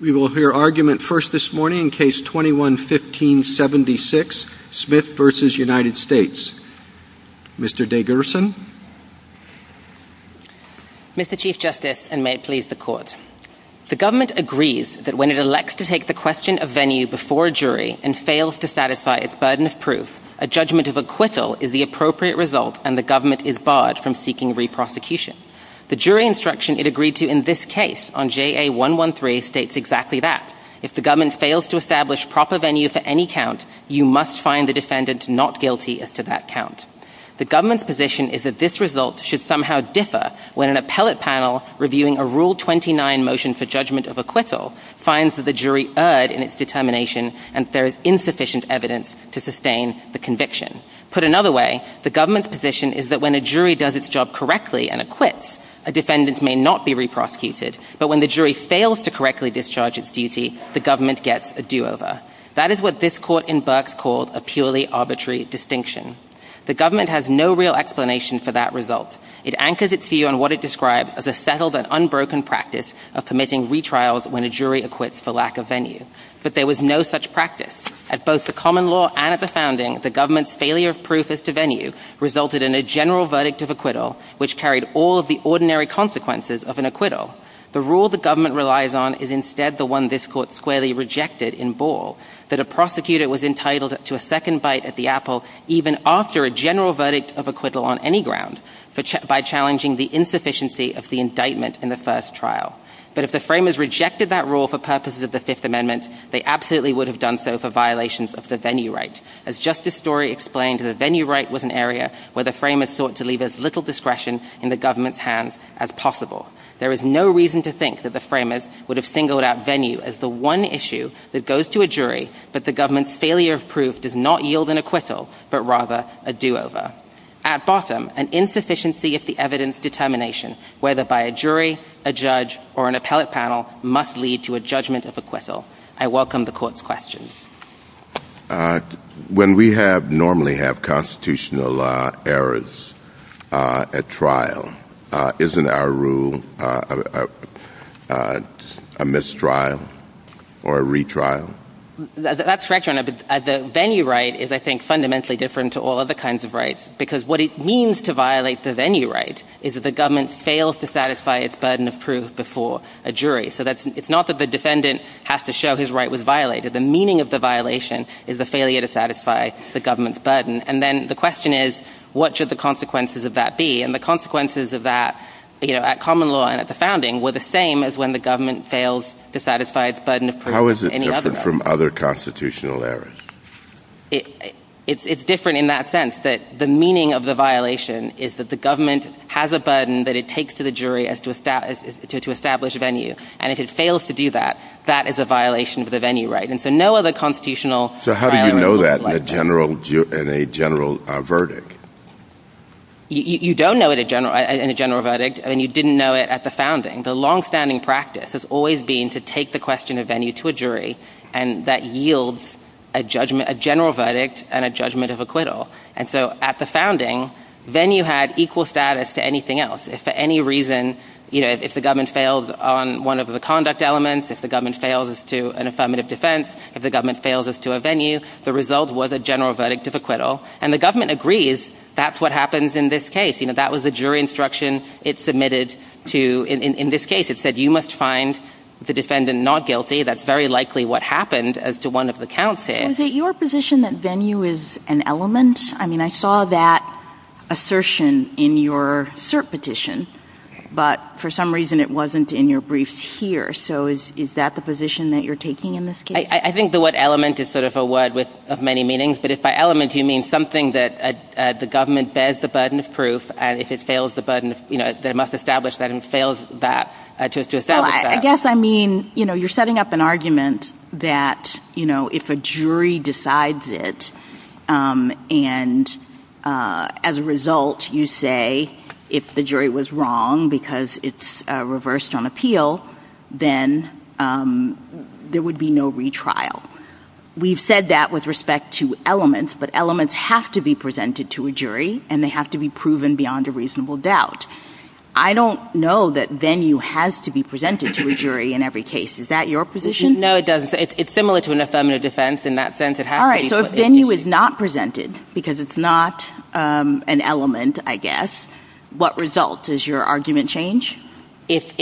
We will hear argument first this morning in Case 21-15-76, Smith v. United States. Mr. DeGerson. Mr. Chief Justice, and may it please the Court. The government agrees that when it elects to take the question of venue before a jury and fails to satisfy its burden of proof, a judgment of acquittal is the appropriate result and the government is barred from seeking re-prosecution. The jury instruction it agreed to in this case on JA-113 states exactly that. If the government fails to establish proper venue for any count, you must find the defendant not guilty as to that count. The government's position is that this result should somehow differ when an appellate panel reviewing a Rule 29 motion for judgment of acquittal finds that the jury erred in its determination and that there is insufficient evidence to sustain the conviction. Put another way, the government's position is that when a jury does its job correctly and acquits, a defendant may not be re-prosecuted, but when the jury fails to correctly discharge its duty, the government gets a do-over. That is what this Court in Berks calls a purely arbitrary distinction. The government has no real explanation for that result. It anchors its view on what it describes as a settled and unbroken practice of permitting retrials when a jury acquits for lack of venue. But there was no such practice. At both the common law and at the founding, the government's failure of proof as to venue resulted in a general verdict of acquittal, which carried all of the ordinary consequences of an acquittal. The rule the government relies on is instead the one this Court squarely rejected in Ball, that a prosecutor was entitled to a second bite at the apple even after a general verdict of acquittal on any ground, by challenging the insufficiency of the indictment in the first trial. But if the framers rejected that rule for purposes of the Fifth Amendment, they absolutely would have done so for violations of the venue right. As Justice Story explained, the venue right was an area where the framers sought to leave as little discretion in the government's hands as possible. There is no reason to think that the framers would have singled out venue as the one issue that goes to a jury that the government's failure of proof does not yield an acquittal, but rather a do-over. At bottom, an insufficiency of the evidence determination, whether by a jury, a judge, or an appellate panel, must lead to a judgment of acquittal. I welcome the Court's questions. When we normally have constitutional errors at trial, isn't our rule a mistrial or a retrial? That's correct, Your Honor, but the venue right is, I think, fundamentally different to all other kinds of rights, because what it means to violate the venue right is that the government fails to satisfy its burden of proof before a jury. So it's not that the defendant has to show his right was violated. The meaning of the violation is the failure to satisfy the government's burden. And then the question is, what should the consequences of that be? And the consequences of that at common law and at the founding were the same as when the government fails to satisfy its burden of proof. How is it different from other constitutional errors? It's different in that sense, that the meaning of the violation is that the government has a burden that it takes to the jury to establish a venue. And if it fails to do that, that is a violation of the venue right. And so no other constitutional violation is like that. So how do you know that in a general verdict? You don't know it in a general verdict, and you didn't know it at the founding. The longstanding practice has always been to take the question of venue to a jury, and that yields a general verdict and a judgment of acquittal. And so at the founding, venue had equal status to anything else. If for any reason, you know, if the government failed on one of the conduct elements, if the government fails as to an affirmative defense, if the government fails as to a venue, the result was a general verdict of acquittal. And the government agrees that's what happens in this case. You know, that was a jury instruction it submitted to, in this case, it said you must find the defendant not guilty. That's very likely what happened as to one of the counts here. Is it your position that venue is an element? I mean, I saw that assertion in your cert petition, but for some reason it wasn't in your brief here. So is that the position that you're taking in this case? I think the word element is sort of a word with many meanings. But if by element you mean something that the government bears the burden of proof, and if it fails the burden, you know, they must establish that it fails that to establish that. I guess I mean, you know, you're setting up an argument that, you know, if a jury decides it, and as a result you say if the jury was wrong because it's reversed on appeal, then there would be no retrial. We've said that with respect to elements, but elements have to be presented to a jury, and they have to be proven beyond a reasonable doubt. I don't know that venue has to be presented to a jury in every case. Is that your position? No, it's similar to an affirmative defense in that sense. All right, so if venue is not presented because it's not an element, I guess, what results? Does your argument change? If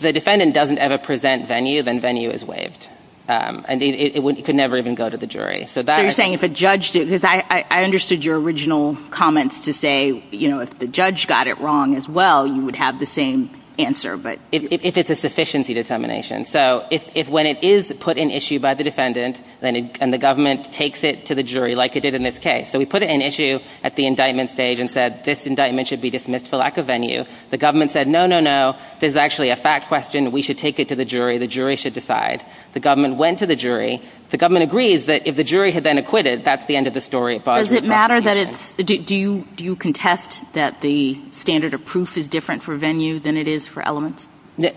the defendant doesn't ever present venue, then venue is waived, and it could never even go to the jury. So you're saying if a judge did, because I understood your original comments to say, you know, if the judge got it wrong as well, you would have the same answer. If it's a sufficiency dissemination. So if when it is put in issue by the defendant and the government takes it to the jury like it did in this case, so we put it in issue at the indictment stage and said this indictment should be dismissed for lack of venue. The government said, no, no, no, this is actually a fact question. We should take it to the jury. The jury should decide. The government went to the jury. The government agrees that if the jury had then acquitted, that's the end of the story. Does it matter that it's – do you contest that the standard of proof is different for venue than it is for elements?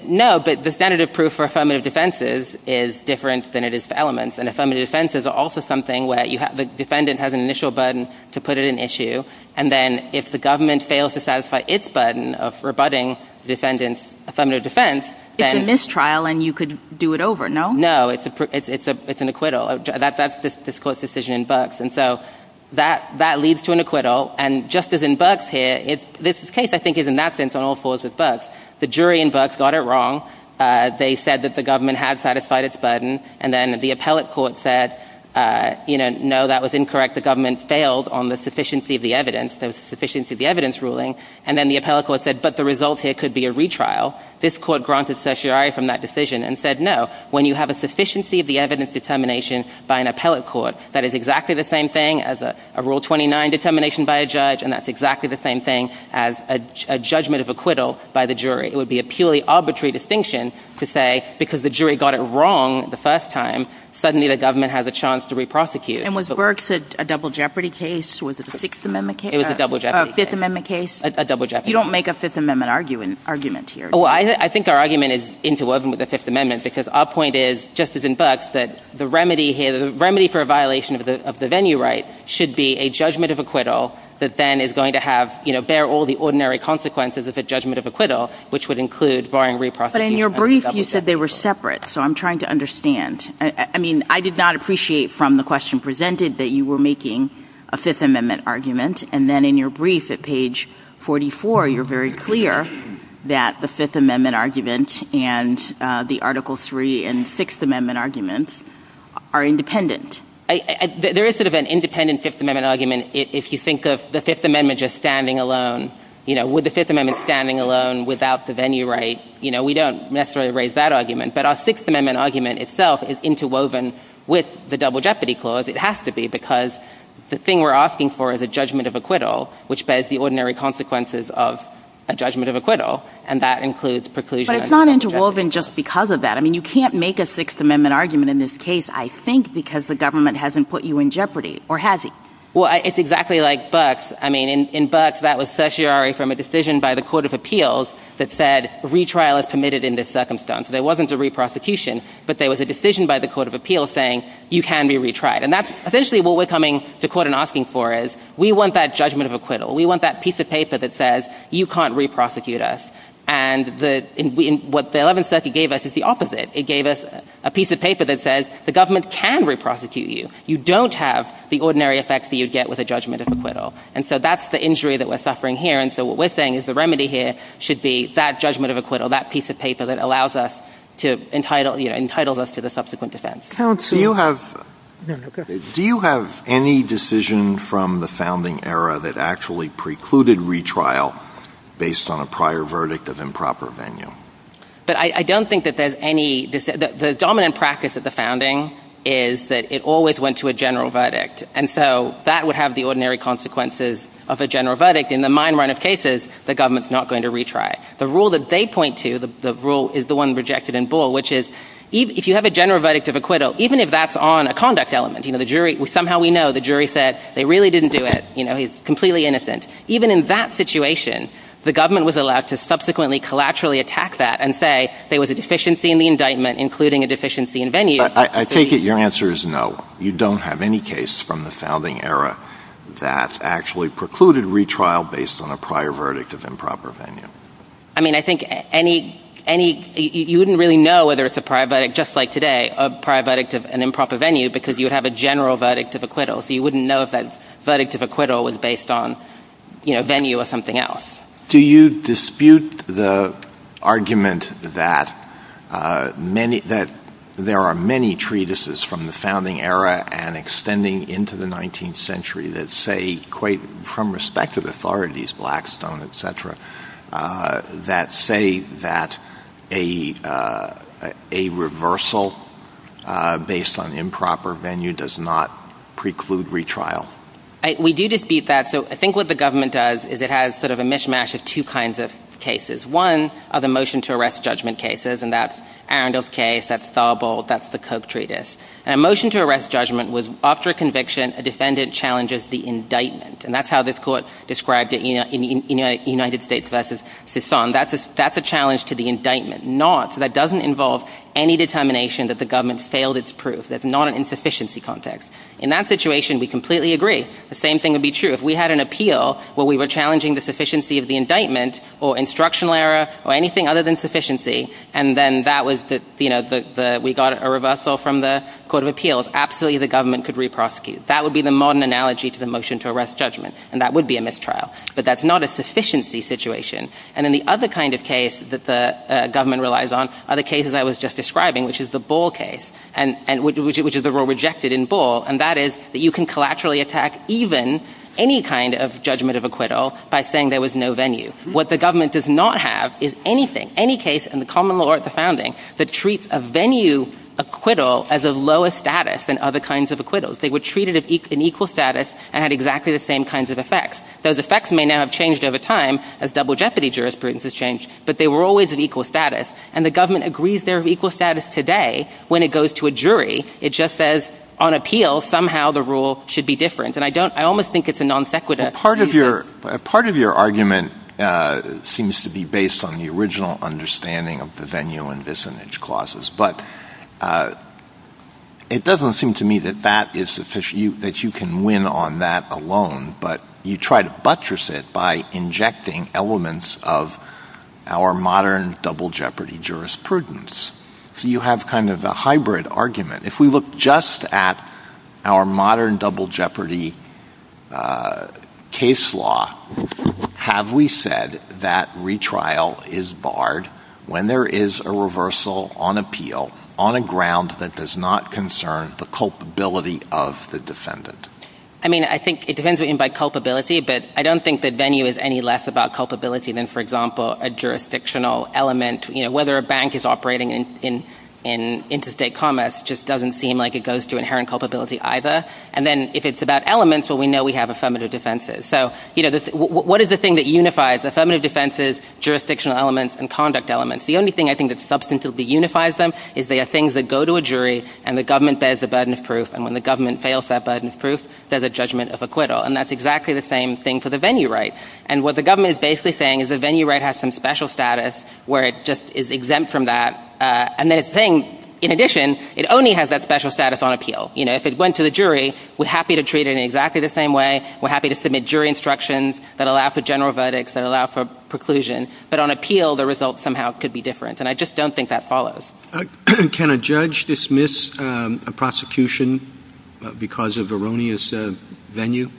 No, but the standard of proof for affirmative defenses is different than it is for elements, and affirmative defenses are also something where the defendant has an initial burden to put it in issue, and then if the government fails to satisfy its burden of rebutting the defendant's affirmative defense, then – It's a mistrial, and you could do it over, no? No, it's an acquittal. That's this court's decision in Bucks, and so that leads to an acquittal, and just as in Bucks here, this case, I think, is in that sense on all fours with Bucks. The jury in Bucks got it wrong. They said that the government had satisfied its burden, and then the appellate court said, you know, no, that was incorrect. The government failed on the sufficiency of the evidence, the sufficiency of the evidence ruling, and then the appellate court said, but the result here could be a retrial. This court granted certiorari from that decision and said, no, when you have a sufficiency of the evidence determination by an appellate court, that is exactly the same thing as a Rule 29 determination by a judge, and that's exactly the same thing as a judgment of acquittal by the jury. It would be a purely arbitrary distinction to say, because the jury got it wrong the first time, suddenly the government has a chance to re-prosecute. And was Burks a double jeopardy case? Was it a Fifth Amendment case? It was a double jeopardy case. A Fifth Amendment case? A double jeopardy case. You don't make a Fifth Amendment argument here, do you? Well, I think our argument is interwoven with the Fifth Amendment, because our point is, just as in Burks, that the remedy here, the remedy for a violation of the venue right should be a judgment of acquittal that then is going to have, you know, bear all the ordinary consequences of a judgment of acquittal, which would include barring re-prosecution. But in your brief, you said they were separate, so I'm trying to understand. I mean, I did not appreciate from the question presented that you were making a Fifth Amendment argument, and then in your brief at page 44, you're very clear that the Fifth Amendment argument and the Article III and Sixth Amendment arguments are independent. There is sort of an independent Fifth Amendment argument. If you think of the Fifth Amendment just standing alone, you know, with the Fifth Amendment standing alone without the venue right, you know, we don't necessarily raise that argument. But our Sixth Amendment argument itself is interwoven with the double jeopardy clause. It has to be, because the thing we're asking for is a judgment of acquittal, which bears the ordinary consequences of a judgment of acquittal, and that includes preclusion. But it's not interwoven just because of that. I mean, you can't make a Sixth Amendment argument in this case, I think, because the government hasn't put you in jeopardy, or has he? Well, it's exactly like Bucks. I mean, in Bucks, that was certiorari from a decision by the Court of Appeals that said retrial is permitted in this circumstance. There wasn't a re-prosecution, but there was a decision by the Court of Appeals saying you can be retried. And that's essentially what we're coming to court and asking for is we want that judgment of acquittal. We want that piece of paper that says you can't re-prosecute us. And what the 11th Circuit gave us is the opposite. It gave us a piece of paper that says the government can re-prosecute you. You don't have the ordinary effects that you'd get with a judgment of acquittal. And so that's the injury that we're suffering here. And so what we're saying is the remedy here should be that judgment of acquittal, that piece of paper that allows us to entitle us to the subsequent defense. Do you have any decision from the founding era that actually precluded retrial based on a prior verdict of improper venue? But I don't think that there's any – the dominant practice at the founding is that it always went to a general verdict. And so that would have the ordinary consequences of a general verdict. In the mine run of cases, the government's not going to retry. The rule that they point to, the rule is the one rejected in Bull, which is if you have a general verdict of acquittal, even if that's on a conduct element, you know, the jury – somehow we know the jury said they really didn't do it. You know, he's completely innocent. Even in that situation, the government was allowed to subsequently, collaterally attack that and say there was a deficiency in the indictment, including a deficiency in venue. I take it your answer is no. You don't have any case from the founding era that actually precluded retrial based on a prior verdict of improper venue. I mean, I think any – you wouldn't really know whether it's a prior verdict, just like today, a prior verdict of an improper venue, because you would have a general verdict of acquittal. So you wouldn't know if that verdict of acquittal was based on, you know, venue or something else. Do you dispute the argument that many – that there are many treatises from the founding era and extending into the 19th century that say quite – from respect to the authorities, Blackstone, et cetera, that say that a reversal based on improper venue does not preclude retrial? We do dispute that. So I think what the government does is it has sort of a mishmash of two kinds of cases. One are the motion-to-arrest judgment cases, and that's Arundel's case, that's Staubel, that's the Koch treatise. And a motion-to-arrest judgment was after a conviction, a defendant challenges the indictment. And that's how this court described it in United States v. Sison. That's a challenge to the indictment. Not – so that doesn't involve any determination that the government failed its proof. That's not an insufficiency context. In that situation, we completely agree. The same thing would be true if we had an appeal where we were challenging the sufficiency of the indictment or instructional error or anything other than sufficiency, and then that was the – you know, we got a reversal from the court of appeals, absolutely the government could re-prosecute. That would be the modern analogy to the motion-to-arrest judgment, and that would be a mistrial. But that's not a sufficiency situation. And then the other kind of case that the government relies on are the cases I was just describing, which is the Ball case, which is the rule rejected in Ball, and that is that you can collaterally attack even any kind of judgment of acquittal by saying there was no venue. What the government does not have is anything, any case in the common law or at the founding that treats a venue acquittal as of lower status than other kinds of acquittals. They were treated in equal status and had exactly the same kinds of effects. Those effects may now have changed over time as double jeopardy jurisprudence has changed, but they were always in equal status. And the government agrees they're in equal status today when it goes to a jury. It just says on appeal somehow the rule should be different. And I don't – I almost think it's a non-sequitur. Well, part of your argument seems to be based on the original understanding of the venue and this image clauses, but it doesn't seem to me that that is sufficient, that you can win on that alone, but you try to buttress it by injecting elements of our modern double jeopardy jurisprudence. So you have kind of a hybrid argument. If we look just at our modern double jeopardy case law, have we said that retrial is barred when there is a reversal on appeal on a ground that does not concern the culpability of the defendant? I mean, I think it depends, I mean, by culpability, but I don't think that venue is any less about culpability than, for example, a jurisdictional element, you know, whether a bank is operating in interstate commerce just doesn't seem like it goes to inherent culpability either. And then if it's about elements, well, we know we have affirmative defenses. So, you know, what is the thing that unifies affirmative defenses, jurisdictional elements, and conduct elements? The only thing I think that substantially unifies them is they are things that go to a jury and the government bears the burden of proof, and when the government fails that burden of proof, there's a judgment of acquittal. And that's exactly the same thing for the venue right. And what the government is basically saying is the venue right has some special status where it just is exempt from that, and they're saying, in addition, it only has that special status on appeal. You know, if it went to the jury, we're happy to treat it in exactly the same way, we're happy to submit jury instructions that allow for general verdicts, that allow for preclusion, but on appeal, the results somehow could be different. And I just don't think that follows. Can a judge dismiss a prosecution because of erroneous venue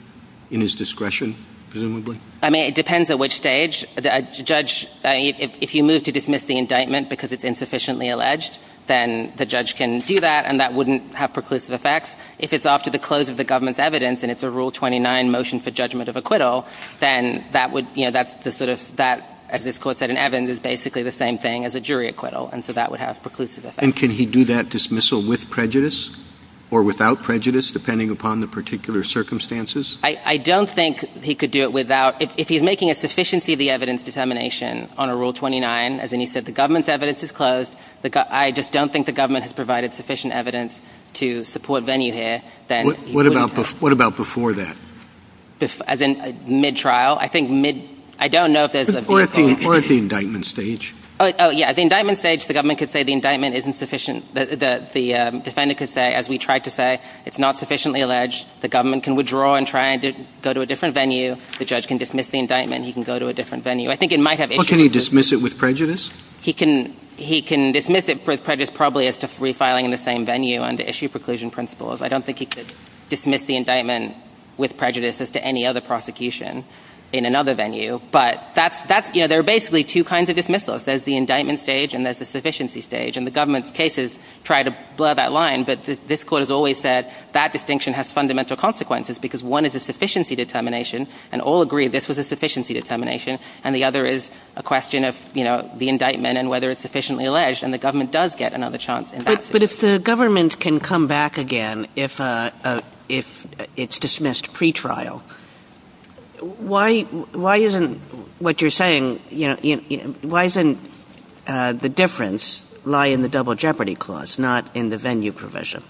in his discretion, presumably? I mean, it depends at which stage. A judge, if you move to dismiss the indictment because it's insufficiently alleged, then the judge can do that, and that wouldn't have preclusive effects. If it's after the close of the government's evidence, and it's a Rule 29 motion for judgment of acquittal, then that would, you know, that's the sort of, as this court said, an evidence is basically the same thing as a jury acquittal, and so that would have preclusive effects. And can he do that dismissal with prejudice or without prejudice, depending upon the particular circumstances? I don't think he could do it without. If he's making a sufficiency of the evidence determination on a Rule 29, as in he said the government's evidence is closed, I just don't think the government has provided sufficient evidence to support venue here. What about before that? As in mid-trial? I think mid – I don't know if there's a – Or at the indictment stage. Oh, yeah, at the indictment stage, the government could say the indictment isn't sufficient. The defendant could say, as we tried to say, it's not sufficiently alleged. The government can withdraw and try to go to a different venue. The judge can dismiss the indictment, and he can go to a different venue. I think it might have – Well, can he dismiss it with prejudice? He can dismiss it with prejudice probably as to refiling in the same venue under issue preclusion principles. I don't think he could dismiss the indictment with prejudice as to any other prosecution in another venue. But that's – you know, there are basically two kinds of dismissals. There's the indictment stage, and there's the sufficiency stage. And the government's cases try to blur that line, but this court has always said that distinction has fundamental consequences because one is a sufficiency determination, and all agree this was a sufficiency determination, and the other is a question of the indictment and whether it's sufficiently alleged, and the government does get another chance in that case. But if the government can come back again if it's dismissed pretrial, why isn't what you're saying – why doesn't the difference lie in the double jeopardy clause, not in the venue provision?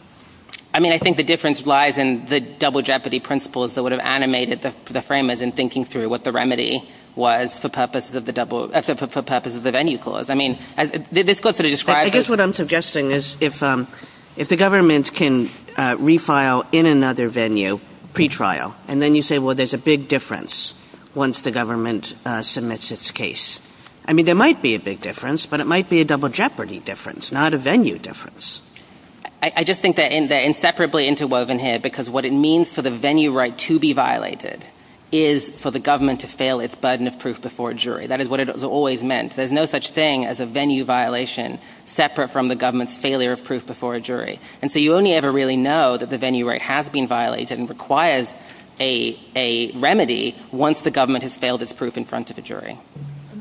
I mean, I think the difference lies in the double jeopardy principles that would have animated the framers in thinking through what the remedy was for purposes of the venue clause. I mean, this court sort of describes it. I guess what I'm suggesting is if the government can refile in another venue pretrial, and then you say, well, there's a big difference once the government submits its case. I mean, there might be a big difference, but it might be a double jeopardy difference, not a venue difference. I just think they're inseparably interwoven here because what it means for the venue right to be violated is for the government to fail its burden of proof before a jury. That is what it always meant. There's no such thing as a venue violation separate from the government's failure of proof before a jury. And so you only ever really know that the venue right has been violated and requires a remedy once the government has failed its proof in front of a jury.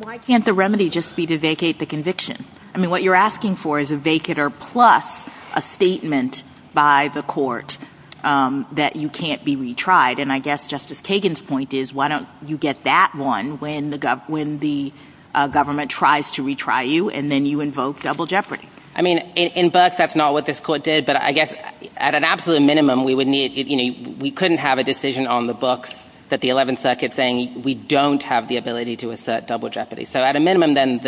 Why can't the remedy just be to vacate the conviction? I mean, what you're asking for is a vacater plus a statement by the court that you can't be retried. And I guess Justice Kagan's point is, why don't you get that one when the government tries to retry you, and then you invoke double jeopardy? I mean, in birth, that's not what this court did. But I guess at an absolute minimum, we couldn't have a decision on the book that the 11th Circuit saying we don't have the ability to assert double jeopardy. Is that what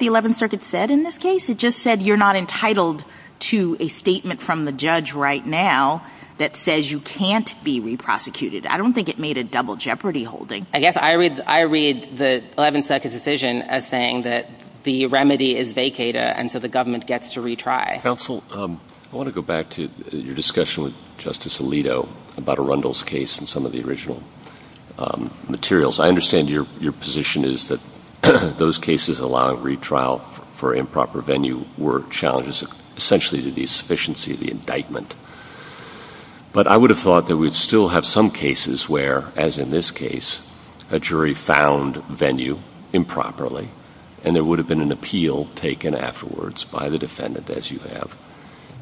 the 11th Circuit said in this case? It just said you're not entitled to a statement from the judge right now that says you can't be reprosecuted. I don't think it made a double jeopardy holding. I guess I read the 11th Circuit's decision as saying that the remedy is vacater, and so the government gets to retry. Counsel, I want to go back to your discussion with Justice Alito about Arundel's case and some of the original materials. I understand your position is that those cases allowing retrial for improper venue were challenges essentially to the sufficiency of the indictment. But I would have thought that we'd still have some cases where, as in this case, a jury found venue improperly, and there would have been an appeal taken afterwards by the defendant, as you have.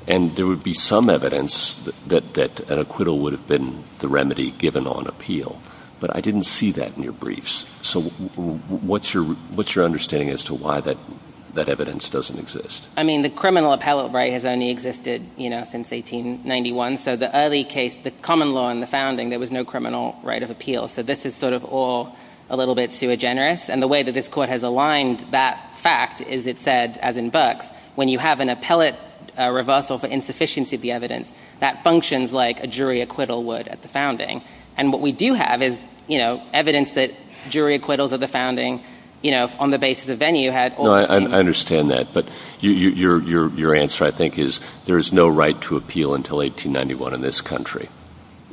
And there would be some evidence that an acquittal would have been the remedy given on appeal. But I didn't see that in your briefs. So what's your understanding as to why that evidence doesn't exist? I mean, the criminal appellate right has only existed, you know, since 1891. So the early case, the common law in the founding, there was no criminal right of appeal. So this is sort of all a little bit sui generis. And the way that this court has aligned that fact is it said, as in Burks, when you have an appellate reversal for insufficiency of the evidence, that functions like a jury acquittal would at the founding. And what we do have is, you know, evidence that jury acquittals at the founding, you know, on the basis of venue had all the reasons. I understand that. But your answer, I think, is there is no right to appeal until 1891 in this country.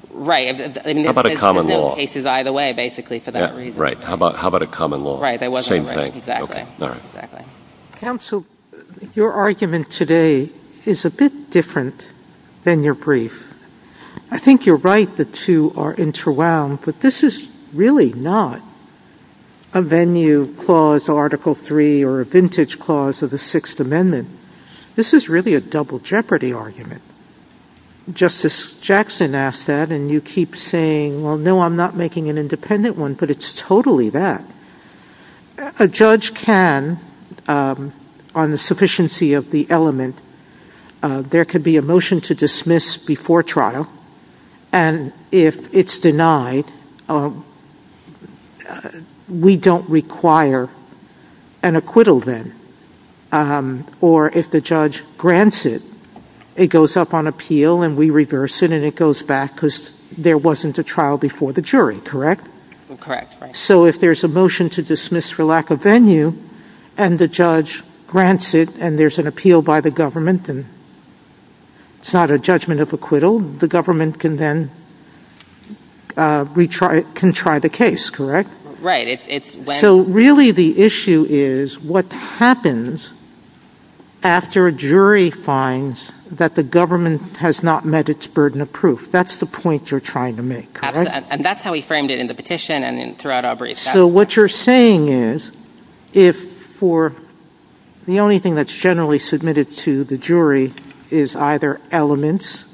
Right. How about a common law? It's either way, basically, for that reason. Right. How about a common law? Right. Same thing. Exactly. Counsel, your argument today is a bit different than your brief. I think you're right. The two are interwound. But this is really not a venue clause, Article III, or a vintage clause of the Sixth Amendment. This is really a double jeopardy argument. Justice Jackson asked that. And you keep saying, well, no, I'm not making an independent one. But it's totally that. A judge can, on the sufficiency of the element, there could be a motion to dismiss before trial. And if it's denied, we don't require an acquittal then. Or if the judge grants it, it goes up on appeal and we reverse it and it goes back because there wasn't a trial before the jury. Correct? Correct. So if there's a motion to dismiss for lack of venue and the judge grants it and there's an appeal by the government and it's not a judgment of acquittal, the government can then retry the case, correct? Right. So really the issue is what happens after a jury finds that the government has not met its burden of proof. That's the point you're trying to make, correct? And that's how we framed it in the petition and throughout our brief. So what you're saying is if for the only thing that's generally submitted to the jury is either elements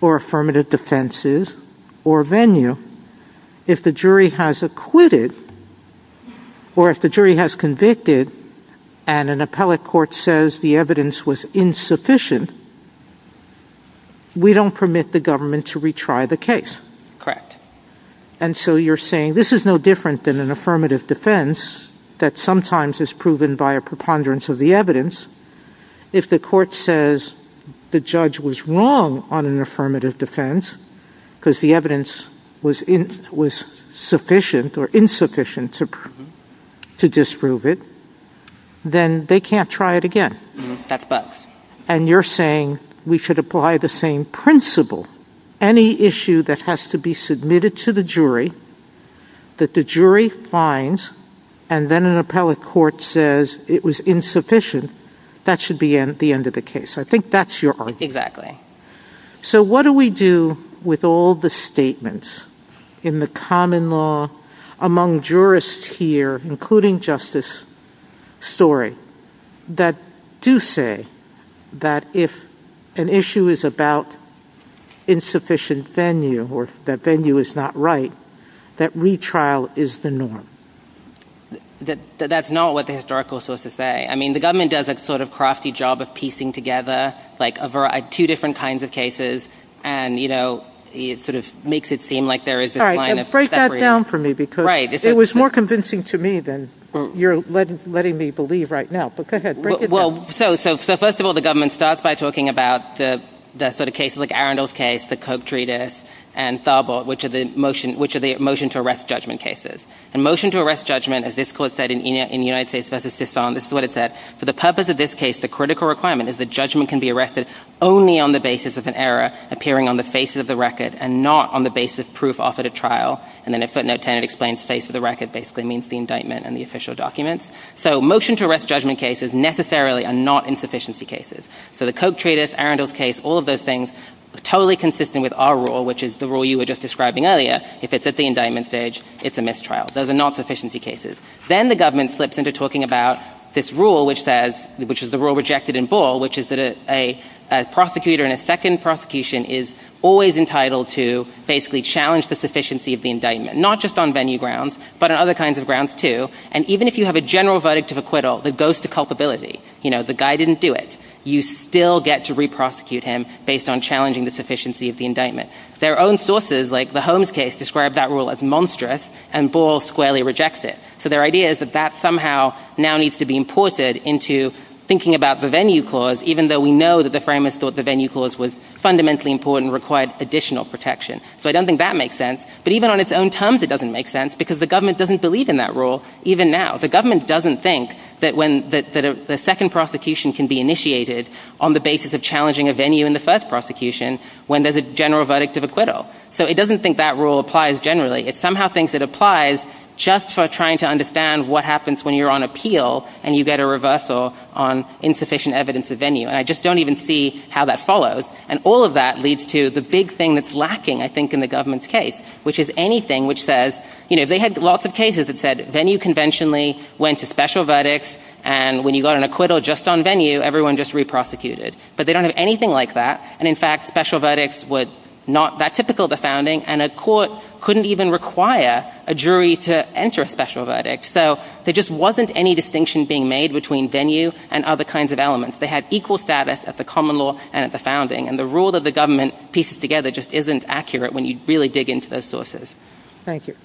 or affirmative defenses or venue, if the jury has acquitted or if the jury has convicted and an appellate court says the evidence was insufficient, we don't permit the government to retry the case. Correct. And so you're saying this is no different than an affirmative defense that sometimes is proven by a preponderance of the evidence. If the court says the judge was wrong on an affirmative defense because the evidence was insufficient to disprove it, then they can't try it again. That's both. And you're saying we should apply the same principle. Any issue that has to be submitted to the jury that the jury finds and then an appellate court says it was insufficient, that should be the end of the case. Exactly. So what do we do with all the statements in the common law among jurists here, including Justice Story, that do say that if an issue is about insufficient venue or that venue is not right, that retrial is the norm? That's not what the historical is supposed to say. I mean, the government does a sort of crafty job of piecing together like two different kinds of cases and, you know, it sort of makes it seem like there is a line. All right. Break that down for me because it was more convincing to me than you're letting me believe right now. But go ahead. Well, so first of all, the government starts by talking about the sort of cases like Arundel's case, the Koch treatise, and Thalbert, which are the motion to arrest judgment cases. And motion to arrest judgment, as this court said in United States v. Sisson, this is what it said, for the purpose of this case, the critical requirement is that judgment can be arrested only on the basis of an error appearing on the basis of the record and not on the basis of proof offered at trial. And then if footnote 10 explains the basis of the record, it basically means the indictment and the official documents. So motion to arrest judgment cases necessarily are not insufficiency cases. So the Koch treatise, Arundel's case, all of those things are totally consistent with our rule, which is the rule you were just describing earlier. If it's at the indictment stage, it's a mistrial. Those are not sufficiency cases. Then the government slips into talking about this rule, which is the rule rejected in Ball, which is that a prosecutor in a second prosecution is always entitled to basically challenge the sufficiency of the indictment, not just on venue grounds, but on other kinds of grounds, too. And even if you have a general verdict of acquittal that goes to culpability, you know, the guy didn't do it, you still get to re-prosecute him based on challenging the sufficiency of the indictment. Their own sources, like the Holmes case, describe that rule as monstrous, and Ball squarely rejects it. So their idea is that that somehow now needs to be imported into thinking about the venue clause, even though we know that the framers thought the venue clause was fundamentally important and required additional protection. So I don't think that makes sense. But even on its own terms, it doesn't make sense, because the government doesn't believe in that rule, even now. The government doesn't think that when the second prosecution can be initiated on the basis of challenging a venue in the first prosecution, when there's a general verdict of acquittal. So it doesn't think that rule applies generally. It somehow thinks it applies just for trying to understand what happens when you're on appeal and you get a reversal on insufficient evidence of venue. And I just don't even see how that follows. And all of that leads to the big thing that's lacking, I think, in the government's case, which is anything which says, you know, they had lots of cases that said venue conventionally went to special verdicts, and when you got an acquittal just on venue, everyone just re-prosecuted it. But they don't have anything like that. And, in fact, special verdicts were not that typical at the founding, and a court couldn't even require a jury to enter a special verdict. So there just wasn't any distinction being made between venue and other kinds of elements. They had equal status at the common law and at the founding. And the rule that the government pieces together just isn't accurate when you really dig into those sources. Thank you.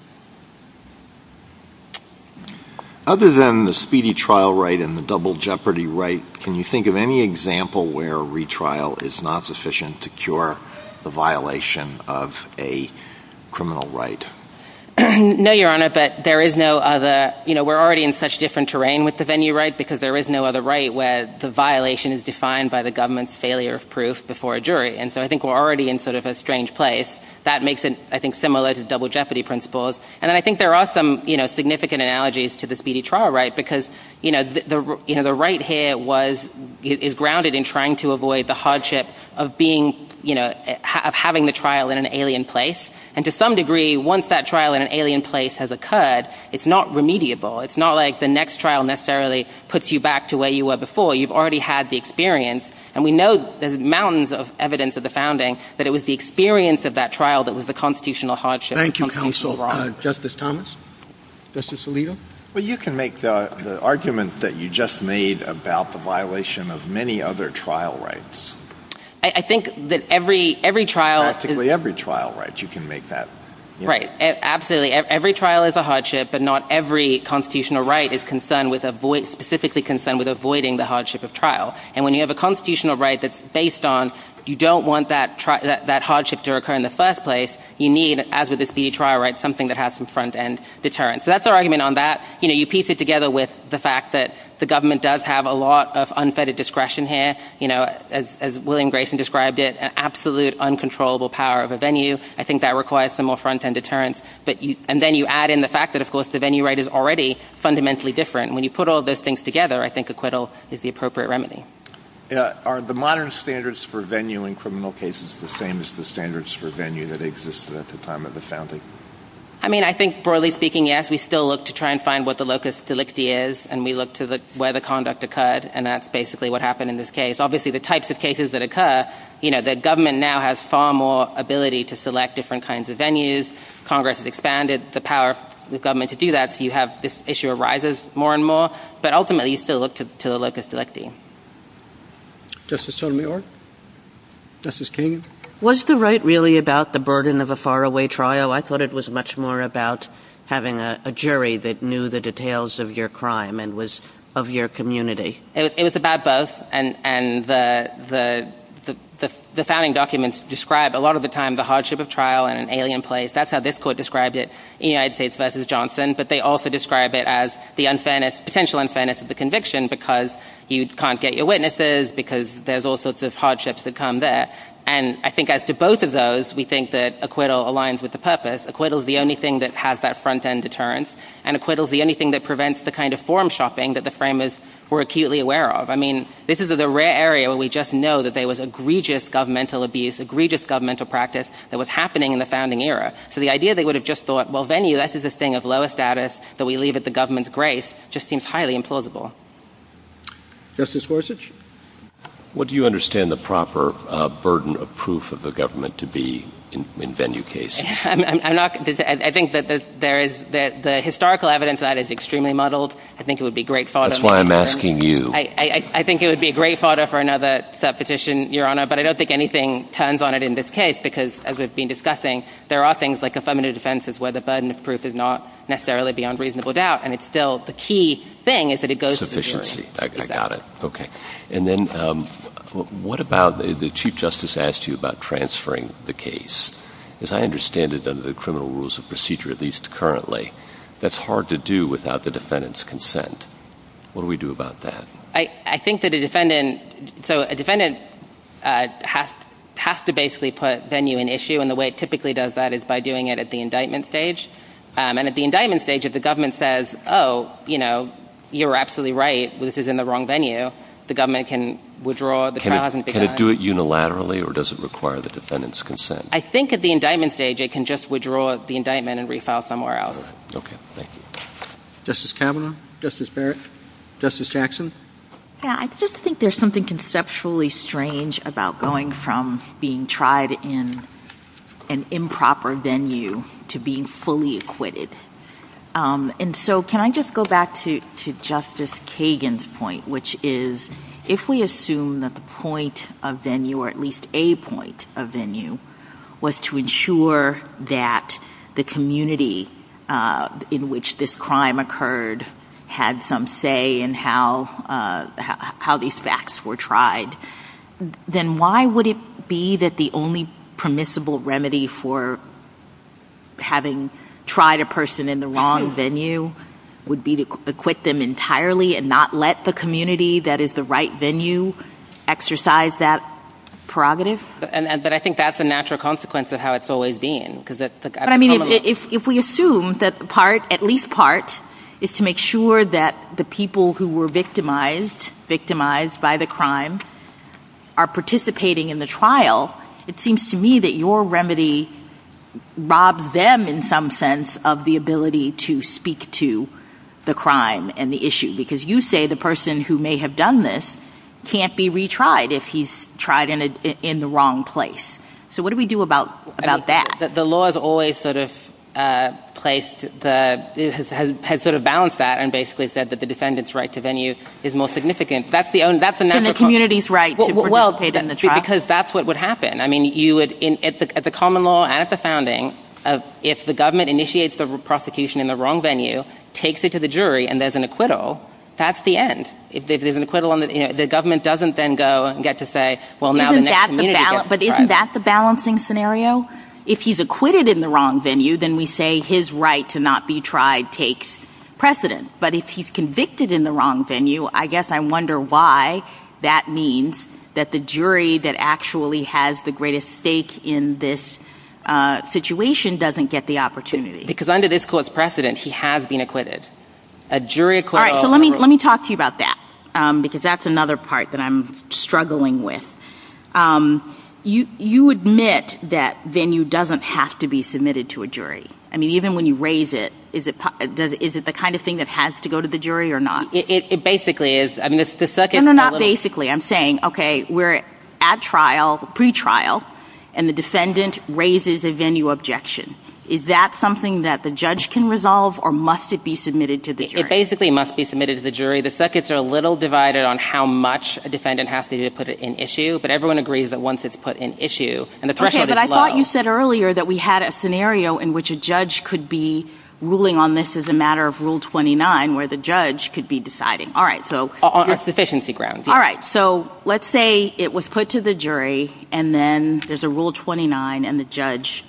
Other than the speedy trial right and the double jeopardy right, can you think of any example where retrial is not sufficient to cure the violation of a criminal right? No, Your Honor, but there is no other. You know, we're already in such different terrain with the venue right because there is no other right where the violation is defined by the government's failure of proof before a jury. And so I think we're already in sort of a strange place. That makes it, I think, similar to double jeopardy principles. And I think there are some significant analogies to the speedy trial right because the right here is grounded in trying to avoid the hardship of having the trial in an alien place. And to some degree, once that trial in an alien place has occurred, it's not remediable. It's not like the next trial necessarily puts you back to where you were before. You've already had the experience. And we know the mountains of evidence of the founding, that it was the experience of that trial that was the constitutional hardship. Thank you, Counsel. Justice Thomas? Justice Alito? Well, you can make the argument that you just made about the violation of many other trial rights. I think that every trial is – Practically every trial right. You can make that – Right. Absolutely. Every trial is a hardship, but not every constitutional right is specifically concerned with avoiding the hardship of trial. And when you have a constitutional right that's based on you don't want that hardship to occur in the first place, you need, as with the speedy trial right, something that has some front-end deterrence. So that's our argument on that. You piece it together with the fact that the government does have a lot of unfettered discretion here. As William Grayson described it, an absolute uncontrollable power of a venue. I think that requires some more front-end deterrence. And then you add in the fact that, of course, the venue right is already fundamentally different. When you put all those things together, I think acquittal is the appropriate remedy. Are the modern standards for venue in criminal cases the same as the standards for venue that existed at the time of the founding? I mean, I think, broadly speaking, yes. We still look to try and find what the locus delicti is, and we look to where the conduct occurred, and that's basically what happened in this case. Obviously, the types of cases that occur, the government now has far more ability to select different kinds of venues. Congress has expanded the power of the government to do that. You have this issue arises more and more. But ultimately, you still look to the locus delicti. Justice Sotomayor? Justice Kagan? Was the right really about the burden of a faraway trial? I thought it was much more about having a jury that knew the details of your crime and was of your community. It was about both, and the founding documents describe a lot of the time the hardship of trial in an alien place. That's how this court described it in United States v. Johnson, but they also describe it as the potential unfairness of the conviction because you can't get your witnesses, because there's all sorts of hardships that come there. And I think as to both of those, we think that acquittal aligns with the purpose. Acquittal is the only thing that has that front-end deterrence, and acquittal is the only thing that prevents the kind of form-shopping that the framers were acutely aware of. I mean, this is a rare area where we just know that there was egregious governmental abuse, egregious governmental practice that was happening in the founding era. So the idea they would have just thought, well, venue, that's just a thing of lower status that we leave at the government's grace, just seems highly implausible. Justice Gorsuch? What do you understand the proper burden of proof of the government to be in venue cases? I think that the historical evidence on that is extremely muddled. I think it would be great fodder. That's why I'm asking you. I think it would be great fodder for another petition, Your Honor, but I don't think anything turns on it in this case because, as we've been discussing, there are things like affirmative defenses where the burden of proof is not necessarily beyond reasonable doubt, and it's still the key thing is that it goes to the jury. I got it. Okay. And then what about the Chief Justice asked you about transferring the case? As I understand it under the criminal rules of procedure, at least currently, that's hard to do without the defendant's consent. What do we do about that? I think that a defendant has to basically put venue in issue, and the way it typically does that is by doing it at the indictment stage. And at the indictment stage, if the government says, oh, you know, you're absolutely right, this is in the wrong venue, the government can withdraw the charge. Can it do it unilaterally, or does it require the defendant's consent? I think at the indictment stage it can just withdraw the indictment and refile somewhere else. Okay. Thank you. Justice Kavanaugh? Justice Barrett? Justice Jackson? I just think there's something conceptually strange about going from being tried in an improper venue to being fully acquitted. And so can I just go back to Justice Kagan's point, which is if we assume that the point of venue, or at least a point of venue, was to ensure that the community in which this crime occurred had some say in how these facts were tried, then why would it be that the only permissible remedy for having tried a person in the wrong venue would be to acquit them entirely and not let the community that is the right venue exercise that prerogative? But I think that's a natural consequence of how it's always been. If we assume that at least part is to make sure that the people who were victimized by the crime are participating in the trial, it seems to me that your remedy robs them in some sense of the ability to speak to the crime and the issue, because you say the person who may have done this can't be retried if he's tried in the wrong place. So what do we do about that? The law has always sort of balanced that and basically said that the defendant's right to venue is more significant. That's the natural consequence. And the community's right to participate in the trial. Because that's what would happen. I mean, at the common law and at the founding, if the government initiates the prosecution in the wrong venue, takes it to the jury, and there's an acquittal, that's the end. If there's an acquittal, the government doesn't then go and get to say, well, now the next community's got to try. But isn't that the balancing scenario? If he's acquitted in the wrong venue, then we say his right to not be tried takes precedent. But if he's convicted in the wrong venue, I guess I wonder why that means that the jury that actually has the greatest stake in this situation doesn't get the opportunity. Because under this court's precedent, he has been acquitted. All right, so let me talk to you about that, because that's another part that I'm struggling with. You admit that venue doesn't have to be submitted to a jury. I mean, even when you raise it, is it the kind of thing that has to go to the jury or not? It basically is. No, no, not basically. I'm saying, okay, we're at trial, pretrial, and the defendant raises a venue objection. Is that something that the judge can resolve, or must it be submitted to the jury? It basically must be submitted to the jury. The circuits are a little divided on how much a defendant has to do to put it in issue, but everyone agrees that once it's put in issue, and the threshold is low. Okay, but I thought you said earlier that we had a scenario in which a judge could be ruling on this as a matter of Rule 29, where the judge could be deciding. On sufficiency grounds, yes. All right, so let's say it was put to the jury, and then there's a Rule 29, and the judge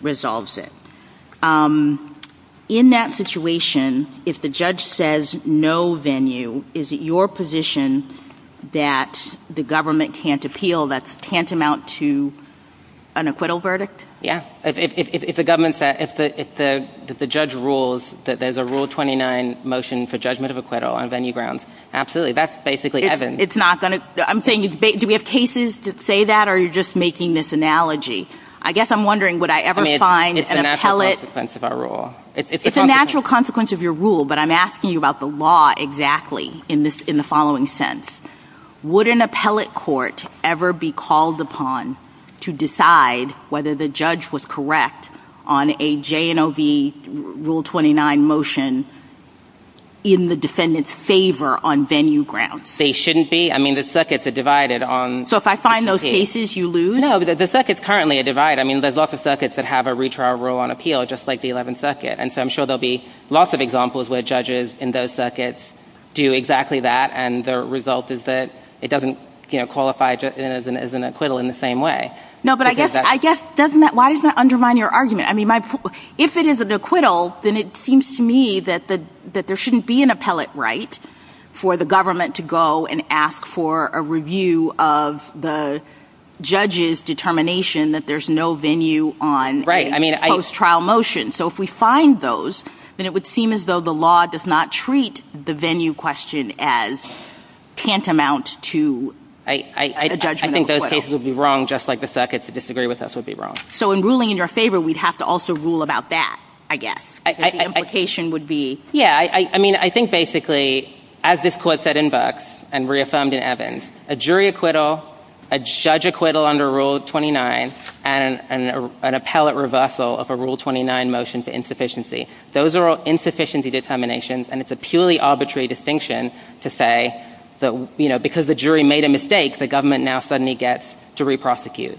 resolves it. In that situation, if the judge says no venue, is it your position that the government can't appeal, that's tantamount to an acquittal verdict? Yeah, if the judge rules that there's a Rule 29 motion for judgment of acquittal on venue grounds, absolutely, that's basically evident. I'm saying, do we have cases that say that, or are you just making this analogy? I guess I'm wondering would I ever find an appellate... It's a natural consequence of our rule. It's a natural consequence of your rule, but I'm asking you about the law exactly in the following sense. Would an appellate court ever be called upon to decide whether the judge was correct on a J&OB Rule 29 motion in the defendant's favor on venue grounds? They shouldn't be. I mean, the circuits are divided on... So if I find those cases, you lose? No, the circuits currently are divided. I mean, there's lots of circuits that have a retrial rule on appeal, just like the 11th Circuit, and so I'm sure there'll be lots of examples where judges in those circuits do exactly that, and the result is that it doesn't qualify as an acquittal in the same way. No, but I guess, why does that undermine your argument? I mean, if it is an acquittal, then it seems to me that there shouldn't be an appellate right for the government to go and ask for a review of the judge's determination that there's no venue on a post-trial motion. So if we find those, then it would seem as though the law does not treat the venue question as tantamount to a judgment acquittal. I don't think those cases would be wrong, just like the circuits that disagree with us would be wrong. So in ruling in your favor, we'd have to also rule about that, I guess. The implication would be... Yeah, I mean, I think basically, as this Court said in Burks and reaffirmed in Evans, a jury acquittal, a judge acquittal under Rule 29, and an appellate reversal of a Rule 29 motion for insufficiency, those are all insufficiency determinations, and it's a purely arbitrary distinction to say that because the jury made a mistake, the government now suddenly gets to reprosecute.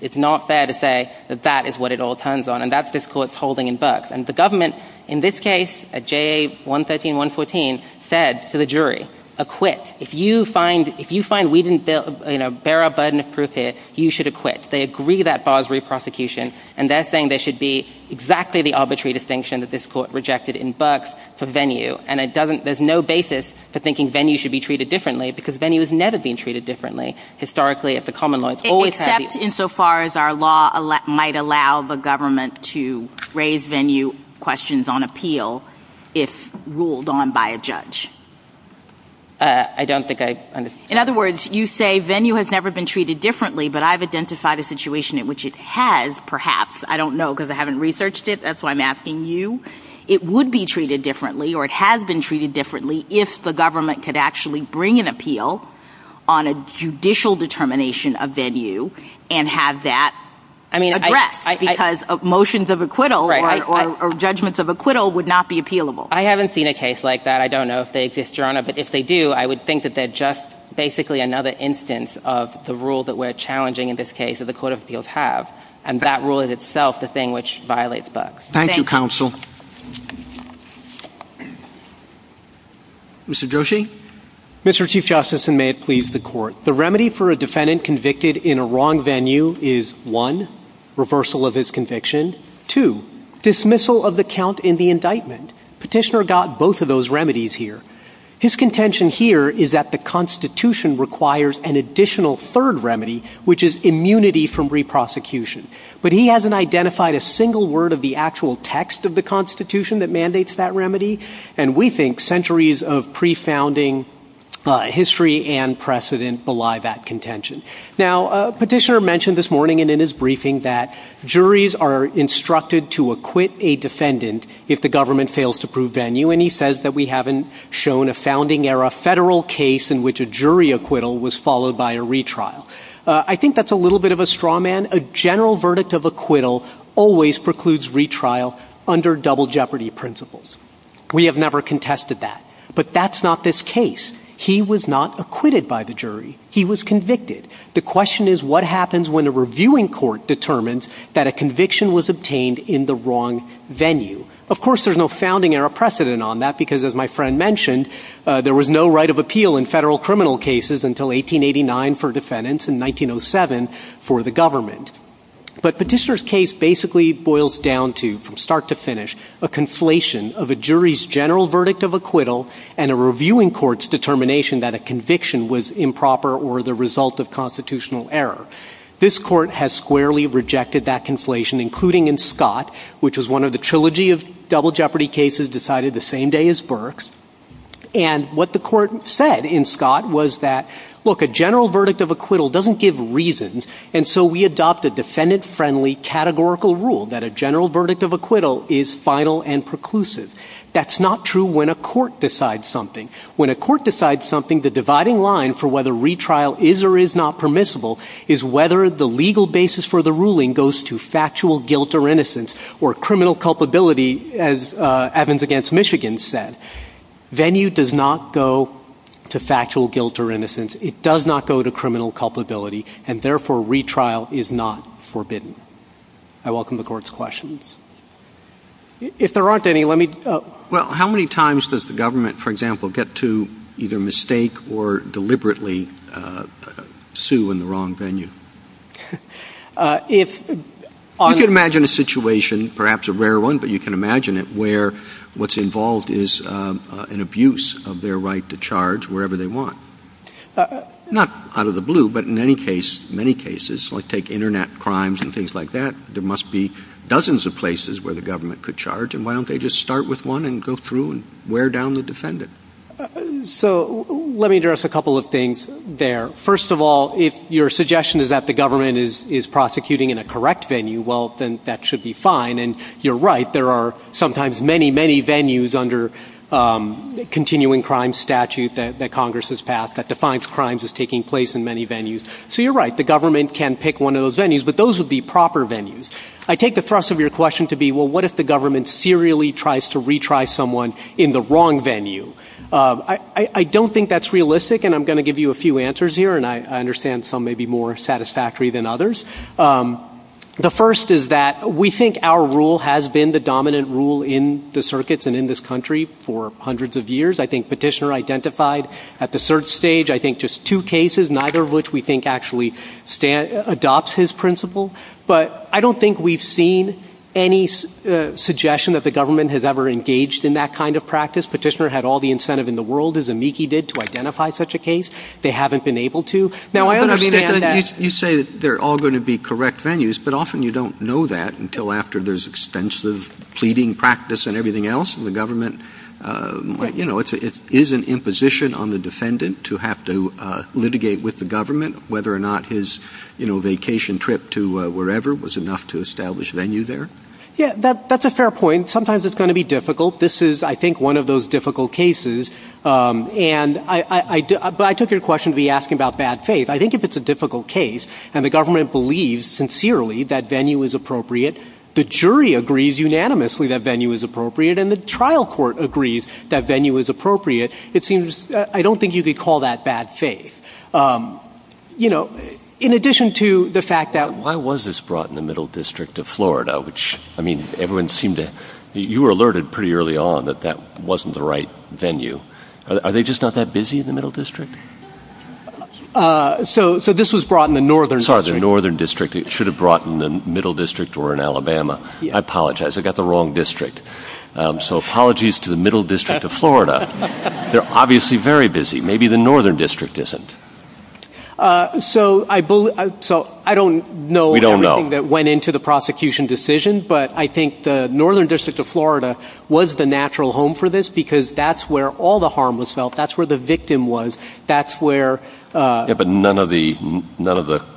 It's not fair to say that that is what it all turns on, and that's this Court's holding in Burks. And the government, in this case, at JA 113, 114, said to the jury, acquit. If you find we didn't bear our burden of proof here, you should acquit. They agree that bars reprosecution, and they're saying there should be exactly the arbitrary distinction that this Court rejected in Burks for venue, and there's no basis for thinking venue should be treated differently because venue has never been treated differently. Historically, it's a common law. Except insofar as our law might allow the government to raise venue questions on appeal if ruled on by a judge. I don't think I understand. In other words, you say venue has never been treated differently, but I've identified a situation in which it has, perhaps. I don't know because I haven't researched it. That's why I'm asking you. It would be treated differently or it has been treated differently if the government could actually bring an appeal on a judicial determination of venue and have that addressed because motions of acquittal or judgments of acquittal would not be appealable. I haven't seen a case like that. I don't know if they exist, Your Honor, but if they do, I would think that they're just basically another instance of the rule that we're challenging in this case and that rules itself the thing which violates BUCS. Thank you, Counsel. Mr. Joshi? Mr. Chief Justice, and may it please the Court, the remedy for a defendant convicted in a wrong venue is, one, reversal of his conviction, two, dismissal of the count in the indictment. Petitioner got both of those remedies here. His contention here is that the Constitution requires an additional third remedy, which is immunity from re-prosecution, but he hasn't identified a single word of the actual text of the Constitution that mandates that remedy, and we think centuries of pre-founding history and precedent belie that contention. Now, Petitioner mentioned this morning and in his briefing that juries are instructed to acquit a defendant if the government fails to prove venue, and he says that we haven't shown a founding-era federal case in which a jury acquittal was followed by a retrial. I think that's a little bit of a straw man. A general verdict of acquittal always precludes retrial under double jeopardy principles. We have never contested that, but that's not this case. He was not acquitted by the jury. He was convicted. The question is what happens when a reviewing court determines that a conviction was obtained in the wrong venue. Of course, there's no founding-era precedent on that because, as my friend mentioned, there was no right of appeal in federal criminal cases until 1889 for defendants and 1907 for the government. But Petitioner's case basically boils down to, from start to finish, a conflation of a jury's general verdict of acquittal and a reviewing court's determination that a conviction was improper or the result of constitutional error. This court has squarely rejected that conflation, including in Scott, which was one of the trilogy of double jeopardy cases decided the same day as Burke's. And what the court said in Scott was that, look, a general verdict of acquittal doesn't give reasons, and so we adopt a defendant-friendly categorical rule that a general verdict of acquittal is final and preclusive. That's not true when a court decides something. When a court decides something, the dividing line for whether retrial is or is not permissible is whether the legal basis for the ruling goes to factual guilt or innocence or criminal culpability, as Evans against Michigan said. Venue does not go to factual guilt or innocence. It does not go to criminal culpability, and, therefore, retrial is not forbidden. I welcome the Court's questions. If there aren't any, let me— Well, how many times does the government, for example, get to either mistake or deliberately sue in the wrong venue? You can imagine a situation, perhaps a rare one, but you can imagine it where what's involved is an abuse of their right to charge wherever they want. Not out of the blue, but in many cases, like take Internet crimes and things like that, there must be dozens of places where the government could charge, and why don't they just start with one and go through and wear down the defendant? So let me address a couple of things there. First of all, if your suggestion is that the government is prosecuting in a correct venue, well, then that should be fine, and you're right. There are sometimes many, many venues under continuing crime statute that Congress has passed that defines crimes as taking place in many venues. So you're right. The government can pick one of those venues, but those would be proper venues. I take the thrust of your question to be, well, what if the government serially tries to retry someone in the wrong venue? I don't think that's realistic, and I'm going to give you a few answers here, and I understand some may be more satisfactory than others. The first is that we think our rule has been the dominant rule in the circuits and in this country for hundreds of years. I think Petitioner identified at the search stage, I think, just two cases, neither of which we think actually adopts his principle. But I don't think we've seen any suggestion that the government has ever engaged in that kind of practice. Petitioner had all the incentive in the world, as Amiki did, to identify such a case. They haven't been able to. Now, I understand that you say they're all going to be correct venues, but often you don't know that until after there's extensive pleading practice and everything else, and the government, you know, it is an imposition on the defendant to have to litigate with the government whether or not his, you know, vacation trip to wherever was enough to establish venue there. Yeah, that's a fair point. Sometimes it's going to be difficult. This is, I think, one of those difficult cases, and I took your question to be asking about bad faith. I think if it's a difficult case and the government believes sincerely that venue is appropriate, the jury agrees unanimously that venue is appropriate, and the trial court agrees that venue is appropriate, it seems I don't think you could call that bad faith. You know, in addition to the fact that- Why was this brought in the Middle District of Florida, which, I mean, everyone seemed to- you were alerted pretty early on that that wasn't the right venue. Are they just not that busy in the Middle District? So this was brought in the Northern District. Sorry, the Northern District. It should have brought in the Middle District or in Alabama. I apologize. I got the wrong district. So apologies to the Middle District of Florida. They're obviously very busy. Maybe the Northern District isn't. So I don't know everything that went into the prosecution decision, but I think the Northern District of Florida was the natural home for this because that's where all the harm was felt. That's where the victim was. That's where- Yeah, but none of the,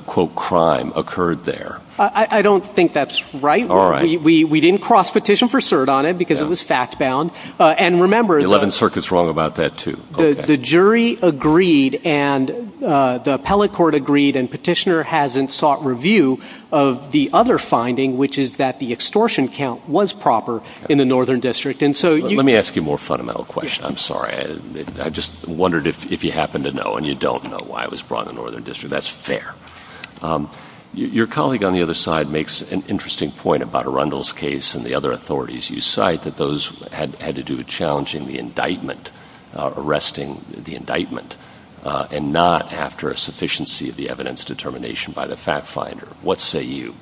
quote, crime occurred there. I don't think that's right. We didn't cross petition for cert on it because it was fact-bound. And remember- The 11th Circuit's wrong about that, too. The jury agreed and the appellate court agreed and petitioner hasn't sought review of the other finding, which is that the extortion count was proper in the Northern District. Let me ask you a more fundamental question. I'm sorry. I just wondered if you happen to know and you don't know why it was brought in the Northern District. That's fair. Your colleague on the other side makes an interesting point about Arundel's case and the other authorities. You cite that those had to do with challenging the indictment, arresting the indictment, and not after a sufficiency of the evidence determination by the fact finder. What say you?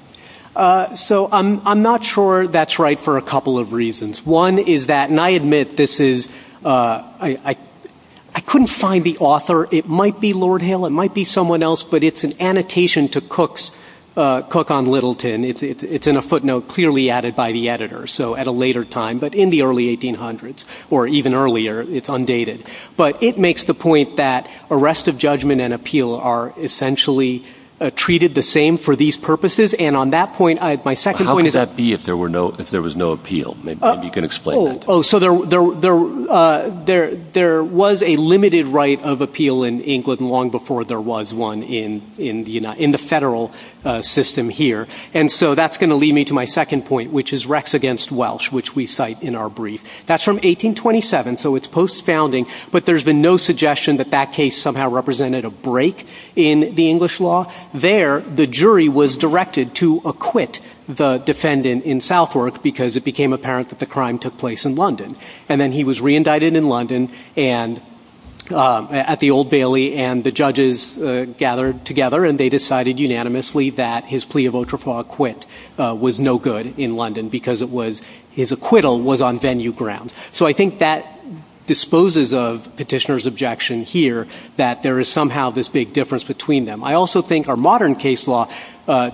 So I'm not sure that's right for a couple of reasons. One is that, and I admit this is- I couldn't find the author. It might be Lord Hill. It might be someone else. But it's an annotation to Cook on Littleton. It's in a footnote clearly added by the editor, so at a later time, but in the early 1800s, or even earlier, it's undated. But it makes the point that arrest of judgment and appeal are essentially treated the same for these purposes. And on that point, my second point is- How could that be if there was no appeal? Maybe you can explain that. Oh, so there was a limited right of appeal in England long before there was one in the federal system here. And so that's going to lead me to my second point, which is Rex against Welsh, which we cite in our brief. That's from 1827, so it's post-founding, but there's been no suggestion that that case somehow represented a break in the English law. There, the jury was directed to acquit the defendant in Southwark because it became apparent that the crime took place in London. And then he was reindicted in London at the Old Bailey and the judges gathered together and they decided unanimously that his plea of ultra fraud acquit was no good in London because it was- his acquittal was on venue ground. So I think that disposes of petitioner's objection here that there is somehow this big difference between them. I also think our modern case law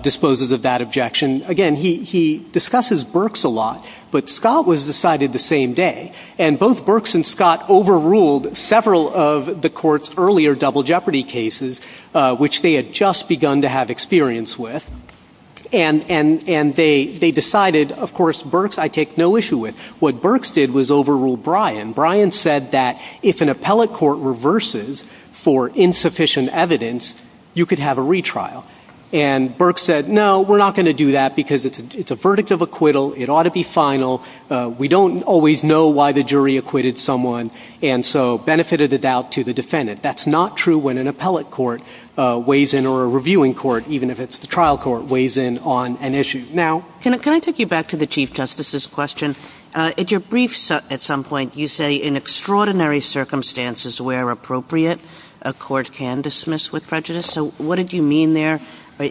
disposes of that objection. Again, he discusses Birx a lot, but Scott was decided the same day. And both Birx and Scott overruled several of the court's earlier double jeopardy cases, which they had just begun to have experience with, and they decided, of course, Birx I take no issue with. What Birx did was overrule Bryan. Bryan said that if an appellate court reverses for insufficient evidence, you could have a retrial. And Birx said, no, we're not going to do that because it's a verdict of acquittal, it ought to be final, we don't always know why the jury acquitted someone, and so benefited the doubt to the defendant. That's not true when an appellate court weighs in or a reviewing court, even if it's the trial court, weighs in on an issue. Now- Can I take you back to the Chief Justice's question? At your briefs at some point, you say, in extraordinary circumstances where appropriate, a court can dismiss with prejudice. So what did you mean there?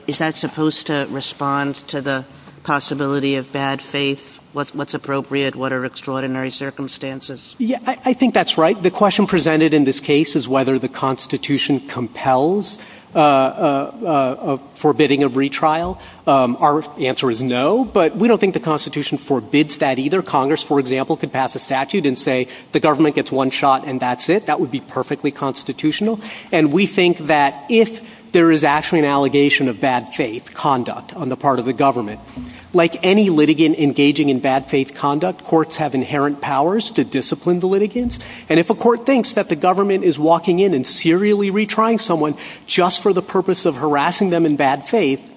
Is that supposed to respond to the possibility of bad faith? What's appropriate? What are extraordinary circumstances? Yeah, I think that's right. The question presented in this case is whether the Constitution compels a forbidding of retrial. Our answer is no, but we don't think the Constitution forbids that either. Congress, for example, could pass a statute and say, the government gets one shot and that's it. That would be perfectly constitutional. And we think that if there is actually an allegation of bad faith conduct on the part of the government, like any litigant engaging in bad faith conduct, courts have inherent powers to discipline the litigants. And if a court thinks that the government is walking in and serially retrying someone just for the purpose of harassing them in bad faith,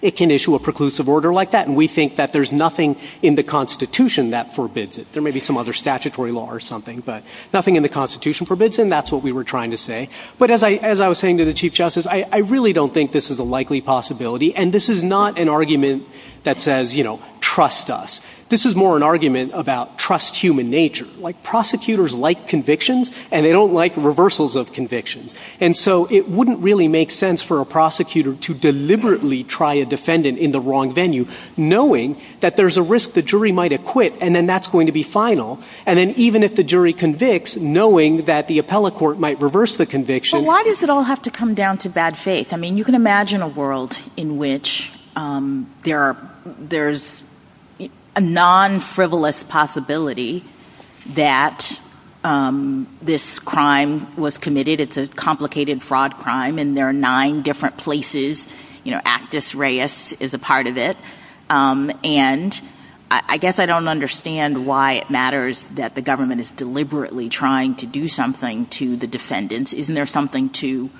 it can issue a preclusive order like that. And we think that there's nothing in the Constitution that forbids it. There may be some other statutory law or something, but nothing in the Constitution forbids it, and that's what we were trying to say. But as I was saying to the Chief Justice, I really don't think this is a likely possibility. And this is not an argument that says, you know, trust us. This is more an argument about trust human nature. Like, prosecutors like convictions, and they don't like reversals of convictions. And so it wouldn't really make sense for a prosecutor to deliberately try a defendant in the wrong venue, knowing that there's a risk the jury might acquit, and then that's going to be final. And then even if the jury convicts, knowing that the appellate court might reverse the conviction... But why does it all have to come down to bad faith? I mean, you can imagine a world in which there are... a non-frivolous possibility that this crime was committed. It's a complicated fraud crime, and there are nine different places. You know, Actus Reis is a part of it. And I guess I don't understand why it matters that the government is deliberately trying to do something to the defendants. Isn't there something to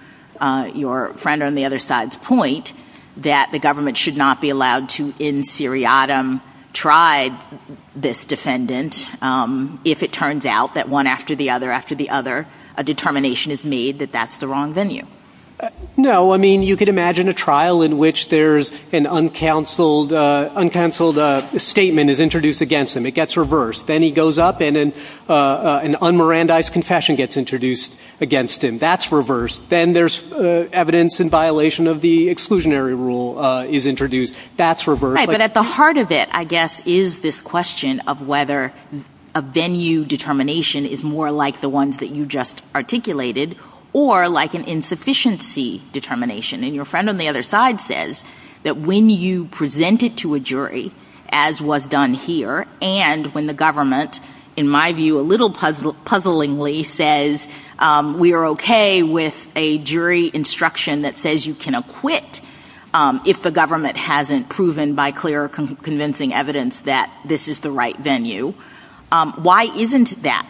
your friend on the other side's point that the government should not be allowed to, in seriatim, try this defendant if it turns out that one after the other after the other, a determination is made that that's the wrong venue? No, I mean, you could imagine a trial in which there's an uncounseled statement is introduced against him. It gets reversed. Then he goes up, and an un-Mirandized confession gets introduced against him. That's reversed. Then there's evidence in violation of the exclusionary rule is introduced. That's reversed. Right, but at the heart of it, I guess, is this question of whether a venue determination is more like the ones that you just articulated or like an insufficiency determination. And your friend on the other side says that when you present it to a jury, as was done here, and when the government, in my view, a little puzzlingly, says we are okay with a jury instruction that says you can acquit if the government hasn't proven by clear convincing evidence that this is the right venue, why isn't that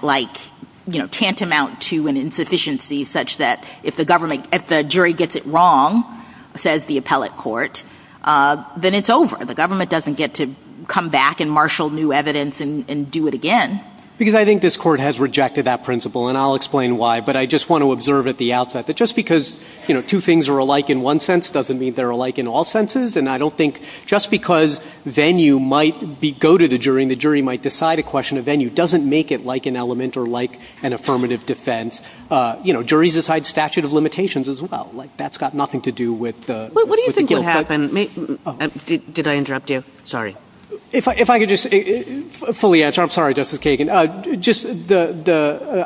tantamount to an insufficiency such that if the jury gets it wrong, says the appellate court, then it's over. The government doesn't get to come back and marshal new evidence and do it again. Because I think this court has rejected that principle, and I'll explain why. But I just want to observe at the outset that just because two things are alike in one sense doesn't mean they're alike in all senses. And I don't think just because venue might be go to the jury and the jury might decide a question, a venue doesn't make it like an element or like an affirmative defense. Juries decide statute of limitations as well. That's got nothing to do with... What do you think would happen? Did I interrupt you? Sorry. If I could just fully answer. I'm sorry, Justice Kagan.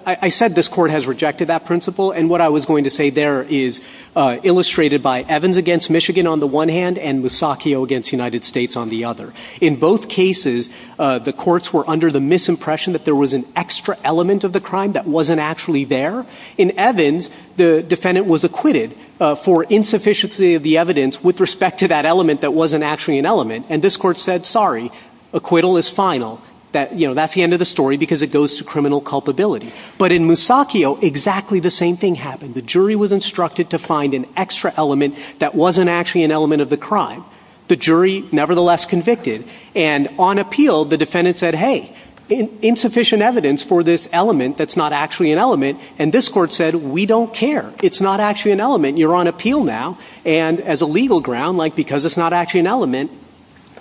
I said this court has rejected that principle, and what I was going to say there is illustrated by Evans against Michigan on the one hand and Musacchio against the United States on the other. In both cases, the courts were under the misimpression that there was an extra element of the crime that wasn't actually there. In Evans, the defendant was acquitted for insufficiency of the evidence with respect to that element that wasn't actually an element, and this court said, sorry, acquittal is final. That's the end of the story because it goes to criminal culpability. But in Musacchio, exactly the same thing happened. The jury was instructed to find an extra element that wasn't actually an element of the crime. The jury nevertheless convicted, and on appeal, the defendant said, hey, insufficient evidence for this element that's not actually an element, and this court said, we don't care. It's not actually an element. You're on appeal now. And as a legal ground, because it's not actually an element,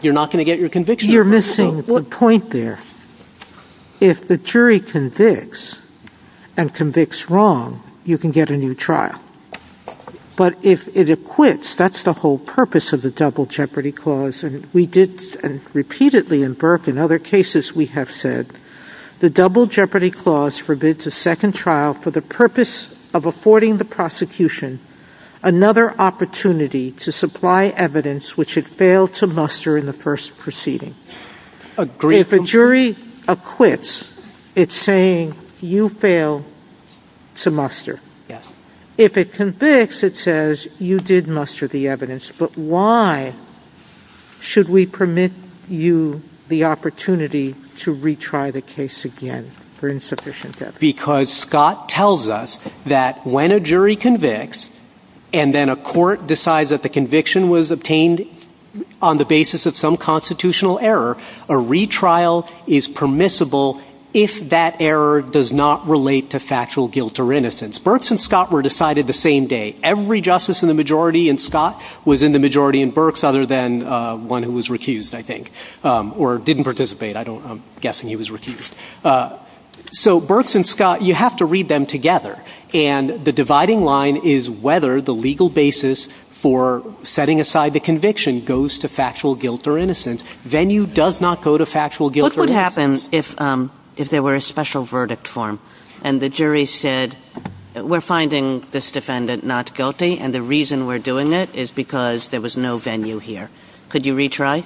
you're not going to get your conviction. You're missing the point there. If the jury convicts and convicts wrong, you can get a new trial. But if it acquits, that's the whole purpose of the Double Jeopardy Clause, and we did repeatedly in Burke and other cases, we have said the Double Jeopardy Clause forbids a second trial for the purpose of affording the prosecution another opportunity to supply evidence which it failed to muster in the first proceeding. If a jury acquits, it's saying you failed to muster. If it convicts, it says you did muster the evidence, but why should we permit you the opportunity to retry the case again for insufficient evidence? Because Scott tells us that when a jury convicts and then a court decides that the conviction was obtained on the basis of some constitutional error, a retrial is permissible if that error does not relate to factual guilt or innocence. Burks and Scott were decided the same day. Every justice in the majority in Scott was in the majority in Burks other than one who was recused, I think, or didn't participate. I'm guessing he was recused. So Burks and Scott, you have to read them together, and the dividing line is whether the legal basis for setting aside the conviction goes to factual guilt or innocence. Venue does not go to factual guilt or innocence. What would happen if there were a special verdict form and the jury said, we're finding this defendant not guilty and the reason we're doing it is because there was no venue here. Could you retry?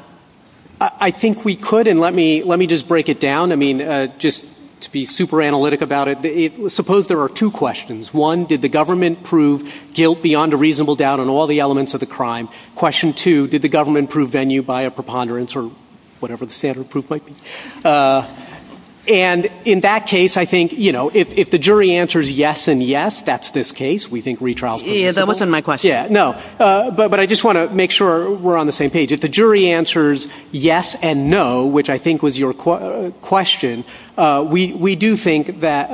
I think we could, and let me just break it down. I mean, just to be super analytic about it, suppose there are two questions. One, did the government prove guilt beyond a reasonable doubt on all the elements of the crime? Question two, did the government prove venue by a preponderance or whatever the standard proof might be? And in that case, I think, you know, if the jury answers yes and yes, that's this case. We think retrial is permissible. Yeah, that wasn't my question. Yeah, no. But I just want to make sure we're on the same page. If the jury answers yes and no, which I think was your question, we do think that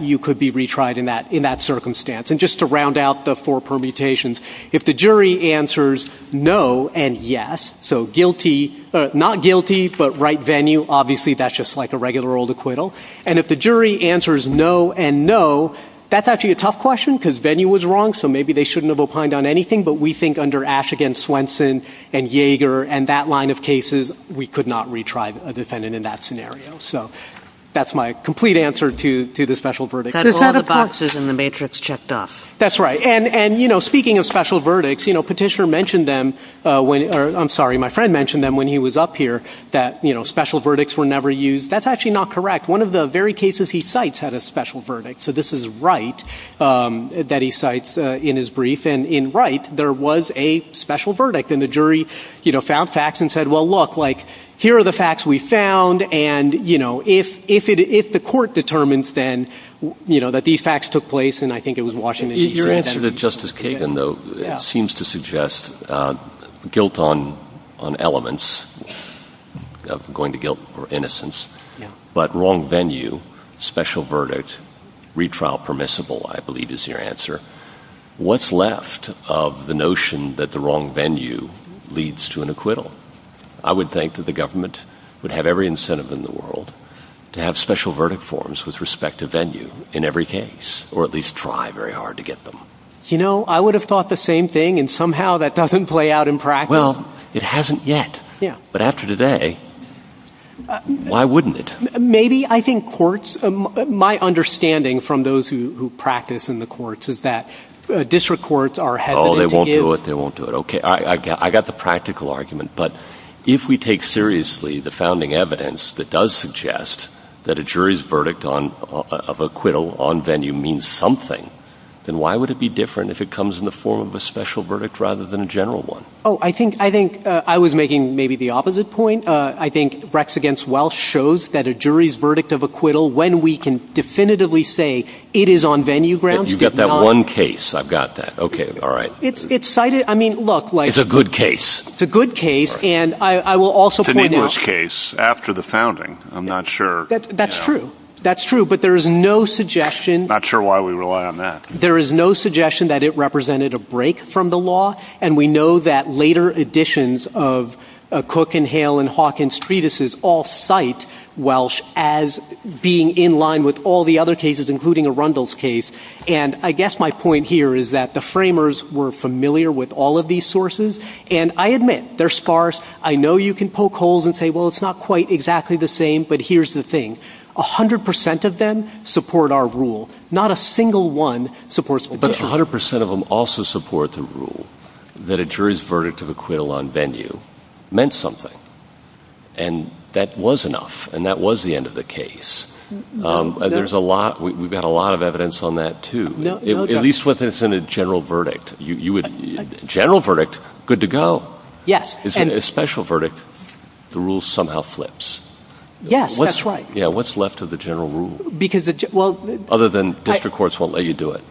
you could be retried in that circumstance. And just to round out the four permutations, if the jury answers no and yes, so guilty, not guilty, but right venue, obviously that's just like a regular old acquittal, and if the jury answers no and no, that's actually a tough question because venue was wrong, so maybe they shouldn't have opined on anything, but we think under Ash against Swenson and Yeager and that line of cases, we could not retry a defendant in that scenario. So that's my complete answer to the special verdict. That's all the boxes in the matrix checked off. That's right. And, you know, speaking of special verdicts, you know, Petitioner mentioned them, or I'm sorry, my friend mentioned them when he was up here, that, you know, special verdicts were never used. That's actually not correct. One of the very cases he cites had a special verdict, so this is Wright that he cites in his brief, and in Wright, there was a special verdict, and the jury, you know, found facts and said, well, look, like, here are the facts we found, and, you know, if the court determines then, you know, that these facts took place, and I think it was Washington D.C. Your answer to Justice Kagan, though, seems to suggest guilt on elements, going to guilt or innocence, but wrong venue, special verdict, retrial permissible, I believe is your answer. What's left of the notion that the wrong venue leads to an acquittal? I would think that the government would have every incentive in the world to have special verdict forms with respect to venue in every case, or at least try very hard to get them. You know, I would have thought the same thing, and somehow that doesn't play out in practice. Well, it hasn't yet. Yeah. But after today, why wouldn't it? Maybe I think courts, my understanding from those who practice in the courts is that district courts are hesitant to give... Oh, they won't do it, they won't do it. Okay, I got the practical argument, but if we take seriously the founding evidence that does suggest that a jury's verdict of acquittal on venue means something, then why would it be different if it comes in the form of a special verdict rather than a general one? Oh, I think I was making maybe the opposite point. I think Brex against Welsh shows that a jury's verdict of acquittal, when we can definitively say it is on venue grounds... You've got that one case. I've got that. Okay, all right. It's cited, I mean, look... It's a good case. It's a good case, and I will also point out... It's a Nicholas case after the founding. I'm not sure... That's true, that's true, but there is no suggestion... Not sure why we rely on that. There is no suggestion that it represented a break from the law, and we know that later editions of Cook and Hale and Hawkins treatises all cite Welsh as being in line with all the other cases, including Arundel's case, and I guess my point here is that the framers were familiar with all of these sources, and I admit they're sparse. I know you can poke holes and say, well, it's not quite exactly the same, but here's the thing. 100% of them support our rule. Not a single one supports... But 100% of them also support the rule that a jury's verdict of acquittal on venue meant something, and that was enough, and that was the end of the case. There's a lot... We've got a lot of evidence on that, too, at least when it's in a general verdict. General verdict, good to go. Yes. In a special verdict, the rule somehow flips. Yes, that's right. Yeah, what's left of the general rule? Because... Other than district courts won't let you do it.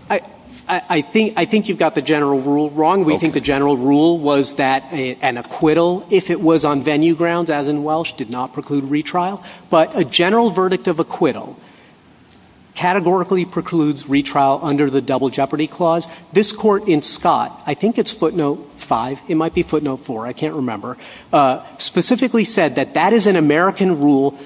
I think you've got the general rule wrong. We think the general rule was that an acquittal, if it was on venue grounds, as in Welsh, did not preclude retrial, but a general verdict of acquittal categorically precludes retrial under the Double Jeopardy Clause. This court in Scott, I think it's footnote 5, it might be footnote 4, I can't remember, specifically said that that is an American rule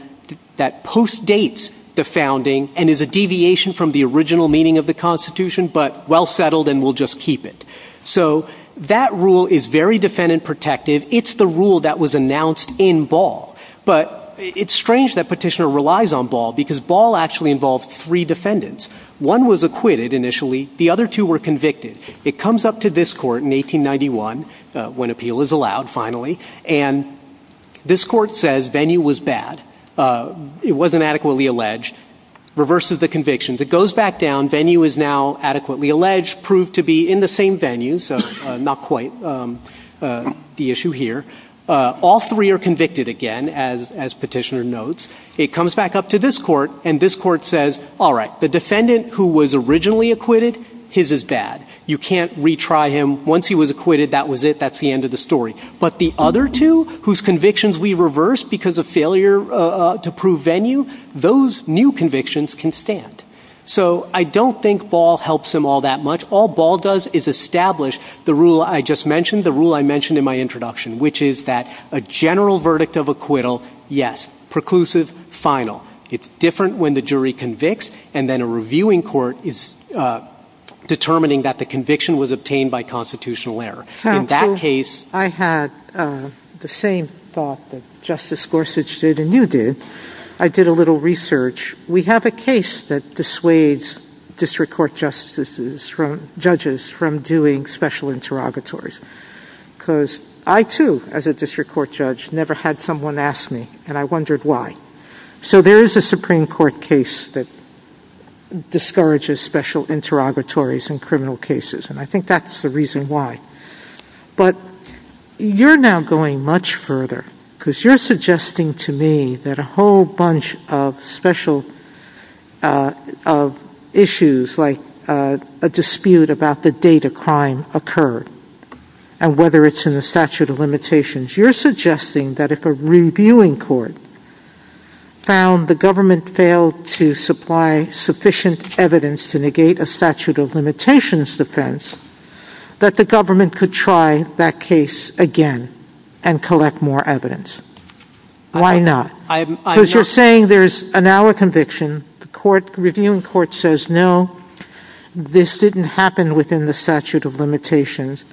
that postdates the founding and is a deviation from the original meaning of the Constitution, but well settled and we'll just keep it. So that rule is very defendant-protective. It's the rule that was announced in Ball. But it's strange that Petitioner relies on Ball because Ball actually involved three defendants. One was acquitted initially. The other two were convicted. It comes up to this court in 1891, when appeal is allowed finally, and this court says venue was bad. It wasn't adequately alleged. Reverses the convictions. It goes back down. Venue is now adequately alleged. Proved to be in the same venue, so not quite the issue here. All three are convicted again, as Petitioner notes. It comes back up to this court, and this court says, all right, the defendant who was originally acquitted, his is bad. You can't retry him. Once he was acquitted, that was it. That's the end of the story. But the other two, whose convictions we reversed because of failure to prove venue, those new convictions can stand. So I don't think Ball helps them all that much. All Ball does is establish the rule I just mentioned, the rule I mentioned in my introduction, which is that a general verdict of acquittal, yes, preclusive, final. It's different when the jury convicts and then a reviewing court is determining that the conviction was obtained by constitutional error. In that case... I had the same thought that Justice Gorsuch did, and you did. I did a little research. We have a case that dissuades district court judges from doing special interrogatories because I, too, as a district court judge, never had someone ask me, and I wondered why. So there is a Supreme Court case that discourages special interrogatories in criminal cases, and I think that's the reason why. But you're now going much further because you're suggesting to me that a whole bunch of special issues like a dispute about the date a crime occurred and whether it's in the statute of limitations. You're suggesting that if a reviewing court found the government failed to supply sufficient evidence to negate a statute of limitations defense, that the government could try that case again and collect more evidence. Why not? Because you're saying there's now a conviction, the reviewing court says, no, this didn't happen within the statute of limitations,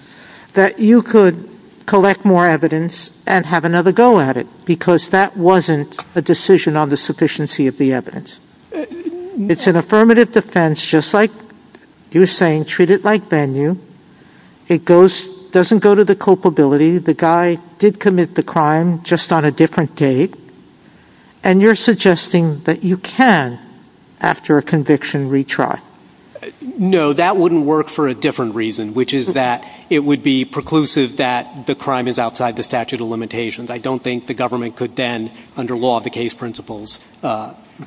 that you could collect more evidence and have another go at it because that wasn't a decision on the sufficiency of the evidence. It's an affirmative defense, just like you're saying, treat it like venue. It doesn't go to the culpability. The guy did commit the crime just on a different date, and you're suggesting that you can, after a conviction, retry. No, that wouldn't work for a different reason, which is that it would be preclusive that the crime is outside the statute of limitations. I don't think the government could then, under law of the case principles,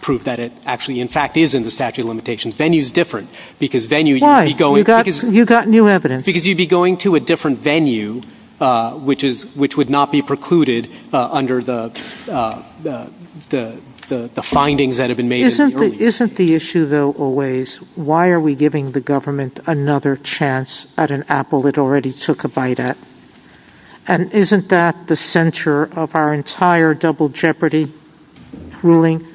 prove that it actually, in fact, is in the statute of limitations. Venue is different. Why? You've got new evidence. Because you'd be going to a different venue, which would not be precluded under the findings that have been made. Isn't the issue, though, always, why are we giving the government another chance at an apple it already took a bite at? And isn't that the center of our entire double jeopardy ruling?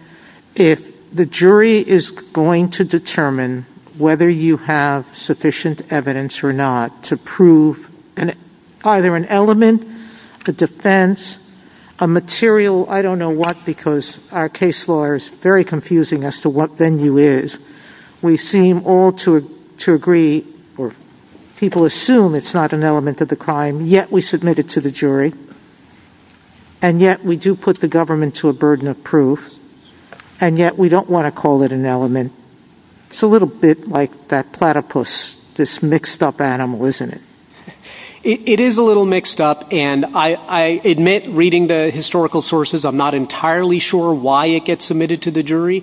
If the jury is going to determine whether you have sufficient evidence or not to prove either an element, a defense, a material, I don't know what, because our case law is very confusing as to what venue is, we seem all to agree, or people assume it's not an element of the crime, yet we submit it to the jury, and yet we do put the government to a burden of proof, and yet we don't want to call it an element. It's a little bit like that platypus, this mixed-up animal, isn't it? It is a little mixed up, and I admit, reading the historical sources, I'm not entirely sure why it gets submitted to the jury.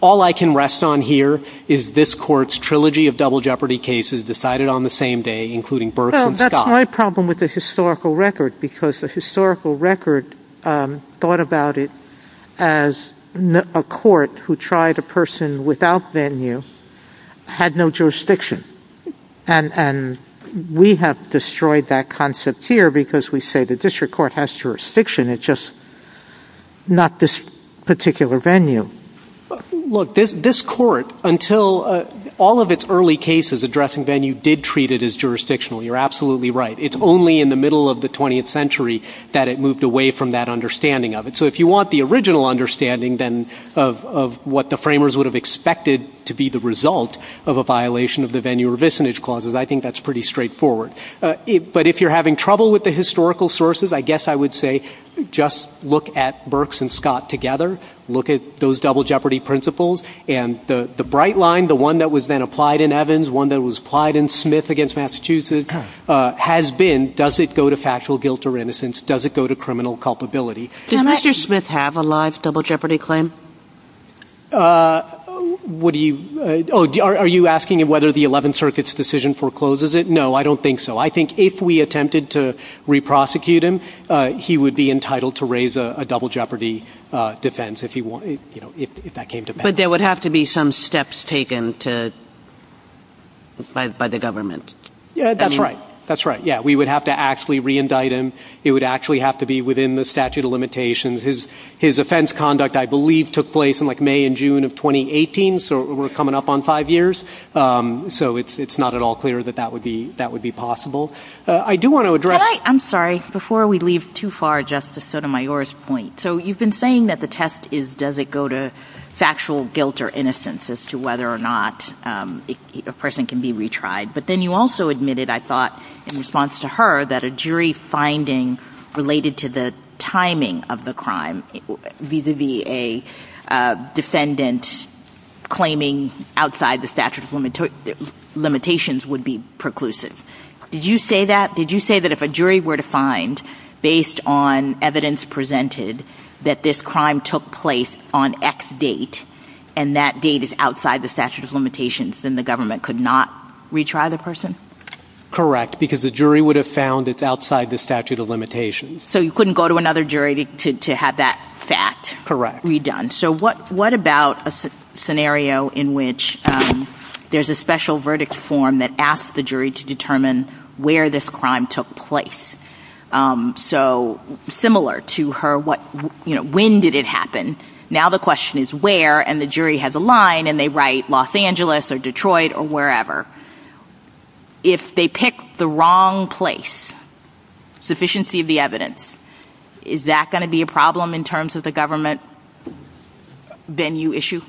All I can rest on here is this court's trilogy of double jeopardy cases decided on the same day, including Berks and Scott. Well, that's my problem with the historical record, because the historical record thought about it as a court who tried a person without venue had no jurisdiction. And we have destroyed that concept here because we say the district court has jurisdiction, it's just not this particular venue. Look, this court, until all of its early cases addressing venue, did treat it as jurisdictional. You're absolutely right. It's only in the middle of the 20th century that it moved away from that understanding of it. So if you want the original understanding, then, of what the framers would have expected to be the result of a violation of the venue-revisionage clauses, I think that's pretty straightforward. But if you're having trouble with the historical sources, I guess I would say just look at Berks and Scott together, look at those double jeopardy principles, and the bright line, the one that was then applied in Evans, one that was applied in Smith against Massachusetts, has been, does it go to factual guilt or innocence, does it go to criminal culpability? Does Mr. Smith have a live double jeopardy claim? What do you... Oh, are you asking whether the 11th Circuit's decision forecloses it? No, I don't think so. I think if we attempted to re-prosecute him, he would be entitled to raise a double jeopardy defense if that came to pass. But there would have to be some steps taken by the government. Yeah, that's right. That's right. Yeah, we would have to actually re-indict him. It would actually have to be within the statute of limitations. His offence conduct, I believe, took place in, like, May and June of 2018, so we're coming up on five years. So it's not at all clear that that would be possible. I do want to address... I'm sorry, before we leave too far Justice Sotomayor's point. So you've been saying that the test is, does it go to factual guilt or innocence as to whether or not a person can be retried. But then you also admitted, I thought, in response to her, that a jury finding related to the timing of the crime vis-à-vis a defendant claiming outside the statute of limitations would be preclusive. Did you say that? Did you say that if a jury were to find, based on evidence presented, that this crime took place on X date and that date is outside the statute of limitations, then the government could not retry the person? Correct, because the jury would have found it's outside the statute of limitations. So you couldn't go to another jury to have that fact redone. Correct. So what about a scenario in which there's a special verdict form that asks the jury to determine where this crime took place? So similar to her, when did it happen? Now the question is where, and the jury has a line, and they write Los Angeles or Detroit or wherever. If they pick the wrong place, sufficiency of the evidence, is that going to be a problem in terms of the government venue issue?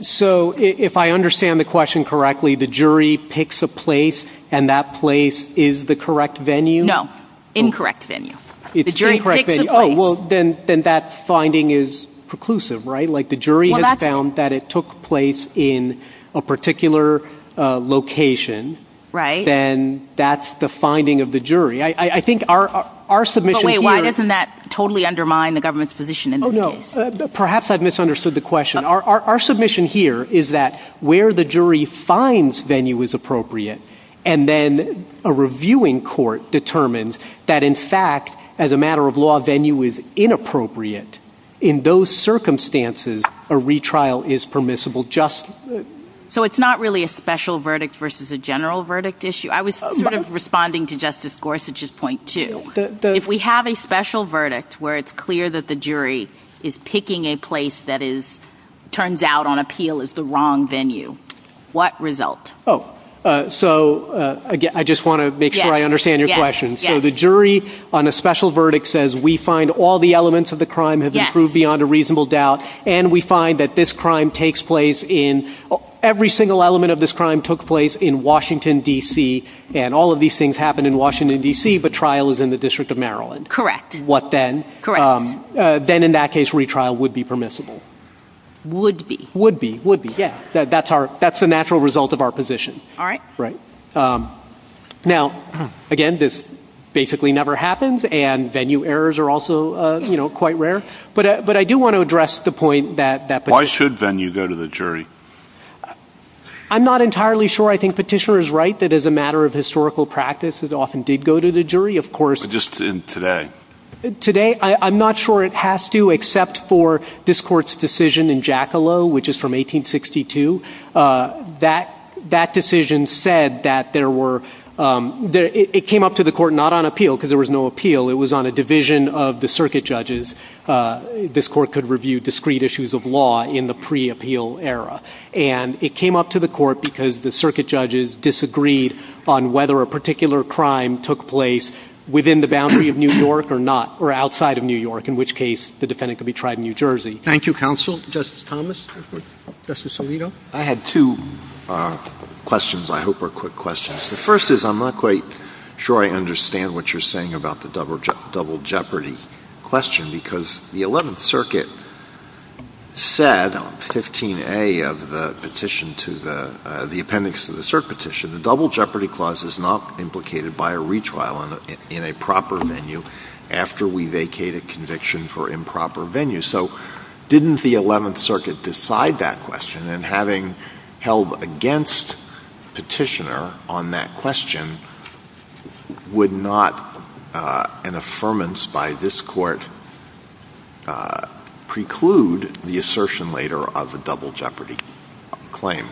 So if I understand the question correctly, the jury picks a place and that place is the correct venue? No, incorrect venue. It's the incorrect venue. Oh, well, then that finding is preclusive, right? Like the jury has found that it took place in a particular location. Right. Then that's the finding of the jury. I think our submission here is... But wait, why doesn't that totally undermine the government's position in this case? Oh, no, perhaps I've misunderstood the question. Our submission here is that where the jury finds venue is appropriate, and then a reviewing court determines that, in fact, as a matter of law, venue is inappropriate. In those circumstances, a retrial is permissible. So it's not really a special verdict versus a general verdict issue? I was sort of responding to Justice Gorsuch's point, too. If we have a special verdict where it's clear that the jury is picking a place that turns out on appeal is the wrong venue, what result? Oh, so I just want to make sure I understand your question. So the jury on a special verdict says we find all the elements of the crime have improved beyond a reasonable doubt, and we find that this crime takes place in every single element of this crime took place in Washington, D.C., and all of these things happen in Washington, D.C., but trial is in the District of Maryland. Correct. What then? Correct. Would be. Would be, would be, yeah. That's the natural result of our position. All right. Right. Now, again, this basically never happens, and venue errors are also quite rare, but I do want to address the point that the jury. Why should venue go to the jury? I'm not entirely sure. I think Petitior is right that as a matter of historical practice, it often did go to the jury, of course. But just today. Today? I'm not sure it has to except for this court's decision in Jackalow, which is from 1862. That decision said that there were. It came up to the court not on appeal because there was no appeal. It was on a division of the circuit judges. This court could review discrete issues of law in the pre-appeal era, and it came up to the court because the circuit judges disagreed on whether a particular crime took place within the boundary of New York or not outside of New York, in which case the defendant could be tried in New Jersey. Thank you, counsel. Justice Thomas. Justice Alito. I had two questions. I hope are quick questions. The first is I'm not quite sure I understand what you're saying about the double jeopardy question because the 11th circuit said 15A of the petition to the appendix to the cert petition, the double jeopardy clause is not implicated by a retrial in a proper venue after we vacate a conviction for improper venue. So didn't the 11th circuit decide that question? And having held against petitioner on that question, would not an affirmance by this court preclude the assertion later of the double jeopardy claim?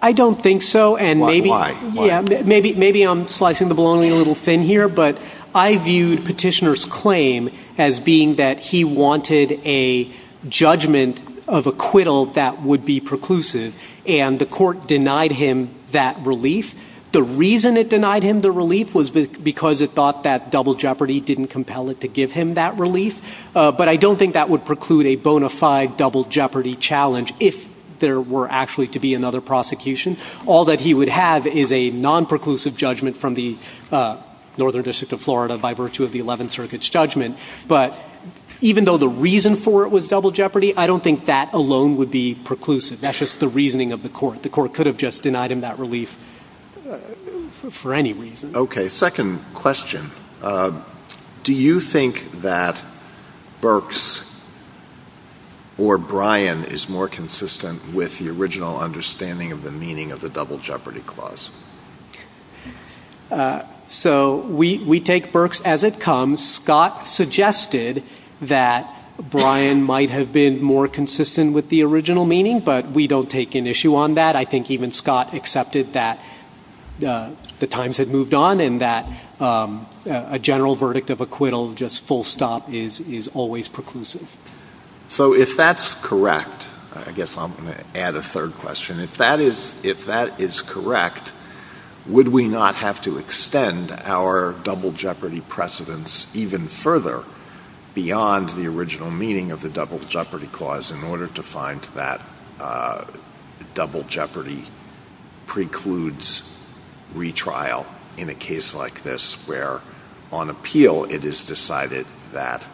I don't think so, and maybe I'm slicing the bologna a little thin here, but I view petitioner's claim as being that he wanted a judgment of acquittal that would be preclusive, and the court denied him that relief. The reason it denied him the relief was because it thought that double jeopardy didn't compel it to give him that relief, but I don't think that would preclude a bona fide double jeopardy challenge if there were actually to be another prosecution. All that he would have is a non-preclusive judgment from the northern district of Florida by virtue of the 11th circuit's judgment. But even though the reason for it was double jeopardy, I don't think that alone would be preclusive. That's just the reasoning of the court. The court could have just denied him that relief for any reason. Okay, second question. Do you think that Berks or Bryan is more consistent with the original understanding of the meaning of the double jeopardy clause? So we take Berks as it comes. Scott suggested that Bryan might have been more consistent with the original meaning, but we don't take an issue on that. I think even Scott accepted that the times had moved on and that a general verdict of acquittal, just full stop, is always preclusive. So if that's correct, I guess I'm going to add a third question. If that is correct, would we not have to extend our double jeopardy precedence even further beyond the original meaning of the double jeopardy clause in order to find that double jeopardy precludes retrial in a case like this, where on appeal it is decided that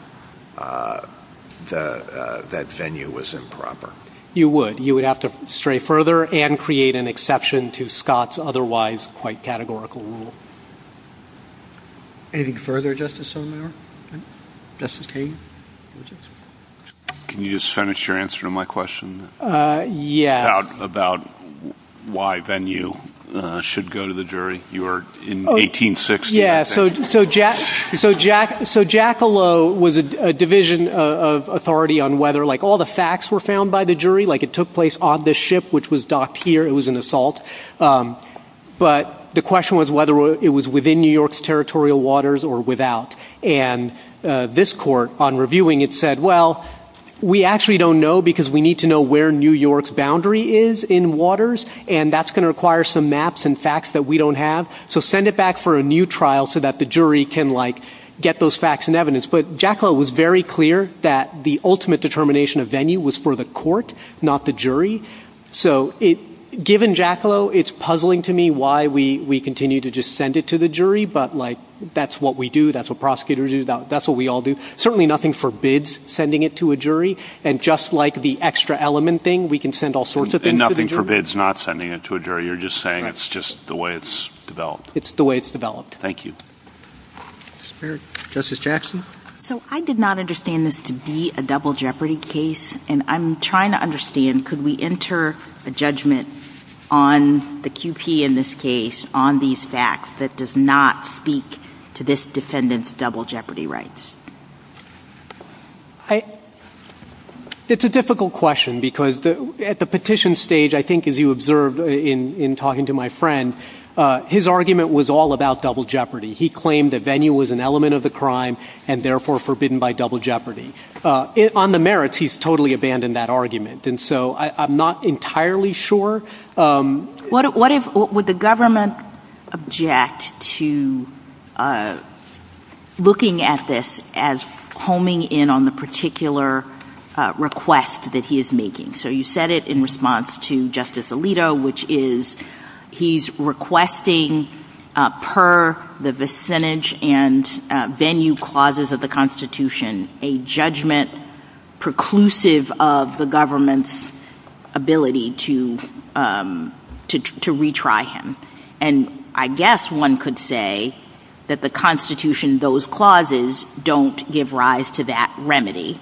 that venue was improper? You would. You would have to stray further and create an exception to Scott's otherwise quite categorical rule. Anything further, Justice O'Mara? Justice Kagan? Can you just finish your answer to my question? Yeah. About why venue should go to the jury? You were in 1860. Yeah. So Jackalow was a division of authority on whether, like, all the facts were found by the jury. Like it took place on this ship, which was docked here. It was an assault. But the question was whether it was within New York's territorial waters or without. And this court, on reviewing it, said, well, we actually don't know because we need to know where New York's boundary is in waters. And that's going to require some maps and facts that we don't have. So send it back for a new trial so that the jury can, like, get those facts and evidence. But Jackalow was very clear that the ultimate determination of venue was for the court, not the jury. So given Jackalow, it's puzzling to me why we continue to just send it to the jury. But, like, that's what we do. That's what prosecutors do. That's what we all do. Certainly nothing forbids sending it to a jury. And just like the extra element thing, we can send all sorts of things to the jury. And nothing forbids not sending it to a jury. You're just saying it's just the way it's developed. It's the way it's developed. Thank you. Justice Jackson? So I did not understand this to be a double jeopardy case. And I'm trying to understand, could we enter a judgment on the QP in this case on these facts that does not speak to this defendant's double jeopardy rights? It's a difficult question because at the petition stage, I think as you observed in talking to my friend, his argument was all about double jeopardy. He claimed that venue was an element of the crime and therefore forbidden by double jeopardy. On the merits, he's totally abandoned that argument. And so I'm not entirely sure. What would the government object to looking at this as homing in on the particular request that he is making? So you said it in response to Justice Alito, which is he's requesting per the vicinage and venue clauses of the Constitution, a judgment preclusive of the government's ability to retry him. And I guess one could say that the Constitution, those clauses don't give rise to that remedy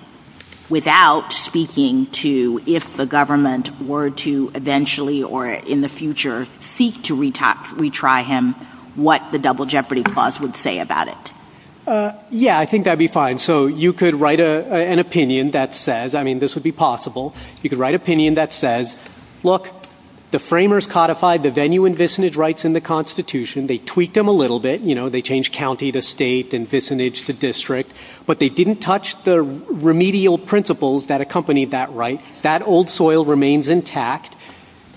without speaking to if the government were to eventually or in the future seek to retry him, what the double jeopardy clause would say about it. Yeah, I think that'd be fine. So you could write an opinion that says, I mean, this would be possible. You could write opinion that says, look, the framers codified the venue and vicinage rights in the Constitution. They tweaked them a little bit. You know, they changed county to state and vicinage to district, but they didn't touch the remedial principles that accompanied that right. That old soil remains intact.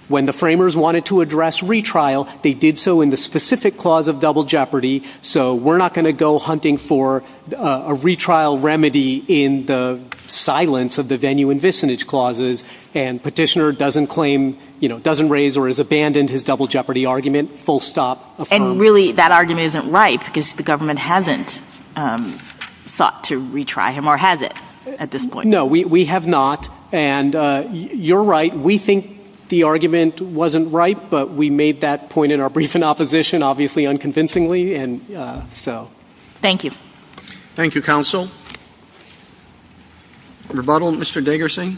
When the framers wanted to address retrial, they did so in the specific clause of double jeopardy. So we're not going to go hunting for a retrial remedy in the silence of the venue and vicinage clauses and petitioner doesn't claim, you know, doesn't raise or has abandoned his double jeopardy argument. Full stop. And really that argument isn't right because the government hasn't thought to retry him or has it at this point? No, we have not. And you're right. We think the argument wasn't right, but we made that point in our brief in opposition, obviously unconvincingly. And so thank you. Thank you. Counsel. Mr. Diggerson.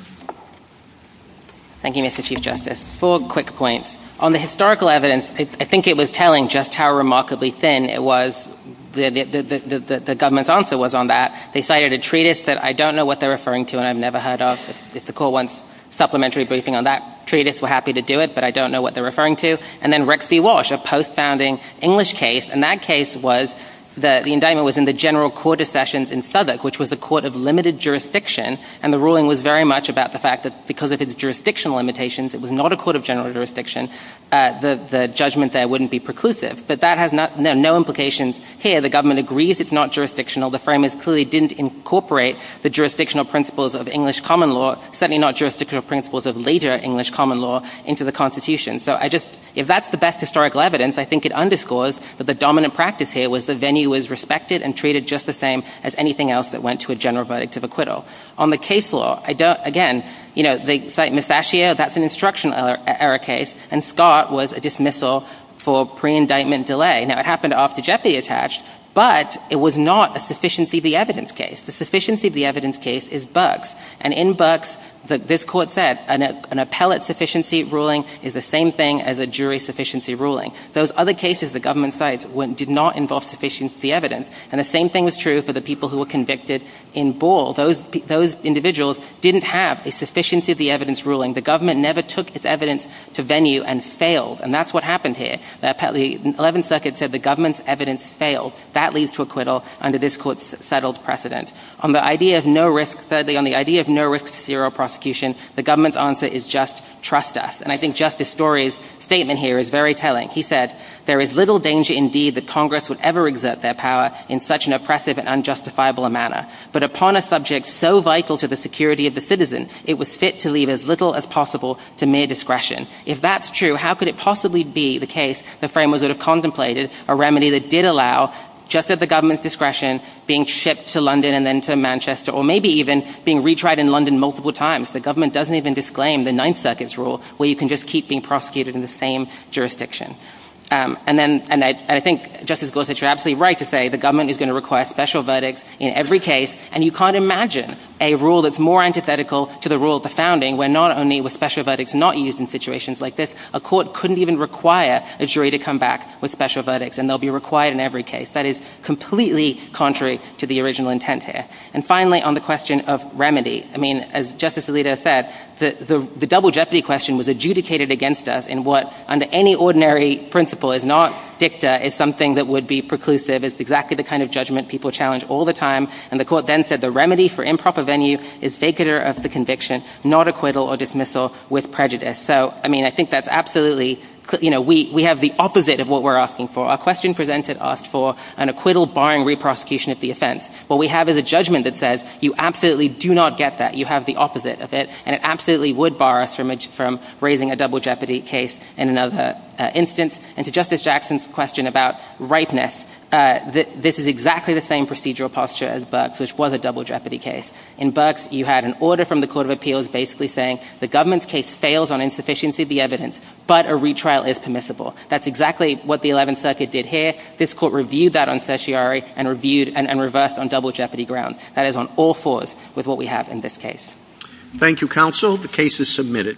Thank you, Mr. Chief justice for quick points on the historical evidence. I think it was telling just how remarkably thin it was. The government's answer was on that. They cited a treatise that I don't know what they're referring to. And I've never heard of. It's the cool ones supplementary briefing on that treatise. We're happy to do it, but I don't know what they're referring to. And then Rexy Walsh, a post founding English case. And that case was that the indictment was in the general court of sessions in Southwark, which was the court of limited jurisdiction. And the ruling was very much about the fact that because of its jurisdictional limitations, it was not a court of general jurisdiction. The judgment there wouldn't be preclusive, but that has no, no implications here. The government agrees. It's not jurisdictional. The frame is clearly didn't incorporate the jurisdictional principles of English common law, certainly not jurisdictional principles of later English common law into the constitution. So I just, if that's the best historical evidence, I think it underscores that the dominant practice here was the venue was respected and treated just the same as anything else that went to a general verdict of acquittal. On the case law. I don't, again, you know, they cite Ms. Bashier. That's an instructional error case. And Scott was a dismissal for pre-indictment delay. Now it happened after Jeffy attached, but it was not a sufficiency of the evidence case. The sufficiency of the evidence case is Bucks. And in Bucks, this court said an appellate sufficiency ruling is the same thing as a jury sufficiency ruling. Those other cases, the government sites did not involve sufficiency evidence. And the same thing was true for the people who were convicted in Ball. Those, those individuals didn't have a sufficiency of the evidence ruling. The government never took its evidence to venue and failed. And that's what happened here. The 11th circuit said the government's evidence failed. That leads to acquittal under this court settled precedent on the idea of no risk. Zero prosecution. The government's answer is just trust us. And I think justice stories statement here is very telling. He said there is little danger. Indeed, the Congress would ever exert their power in such an oppressive and unjustifiable manner, but upon a subject so vital to the security of the citizens, it was fit to leave as little as possible to mere discretion. If that's true, how could it possibly be the case? The framers would have contemplated a remedy that did allow just at the government's discretion being shipped to London and then to Manchester, or maybe even being retried in London. Multiple times. The government doesn't even disclaim the nine seconds rule where you can just keep being prosecuted in the same jurisdiction. And then, and I, I think just as close as you're absolutely right to say, the government is going to request special verdict in every case. And you can't imagine a rule that's more antithetical to the rule of the founding. We're not only with special verdicts, not used in situations like this, a court couldn't even require a jury to come back with special verdicts. And there'll be required in every case that is completely contrary to the original intent here. And finally, on the question of remedy, I mean, as justice Alito said, the, the, the double jeopardy question was adjudicated against us in what under any ordinary principle is not dicta is something that would be preclusive. It's exactly the kind of judgment people challenge all the time. And the court then said the remedy for improper venue is faker of the conviction, not acquittal or dismissal with prejudice. So, I mean, I think that's absolutely, you know, we, we have the opposite of what we're asking for. Our question presented asked for an acquittal barring re-prosecution of the offense. What we have is a judgment that says you absolutely do not get that. You have the opposite of it. And it absolutely would bar us from, from raising a double jeopardy case in another instance. And to justice Jackson's question about rightness, that this is exactly the same procedural posture as, but which was a double jeopardy case in books. You had an order from the court of appeals, basically saying the government's case fails on insufficiency, the evidence, but a retrial is permissible. That's exactly what the 11th circuit did here. This court reviewed that on certiorari and reviewed and reversed on double jeopardy grounds. That is on all floors with what we have in this case. Thank you. Counsel. The case is submitted.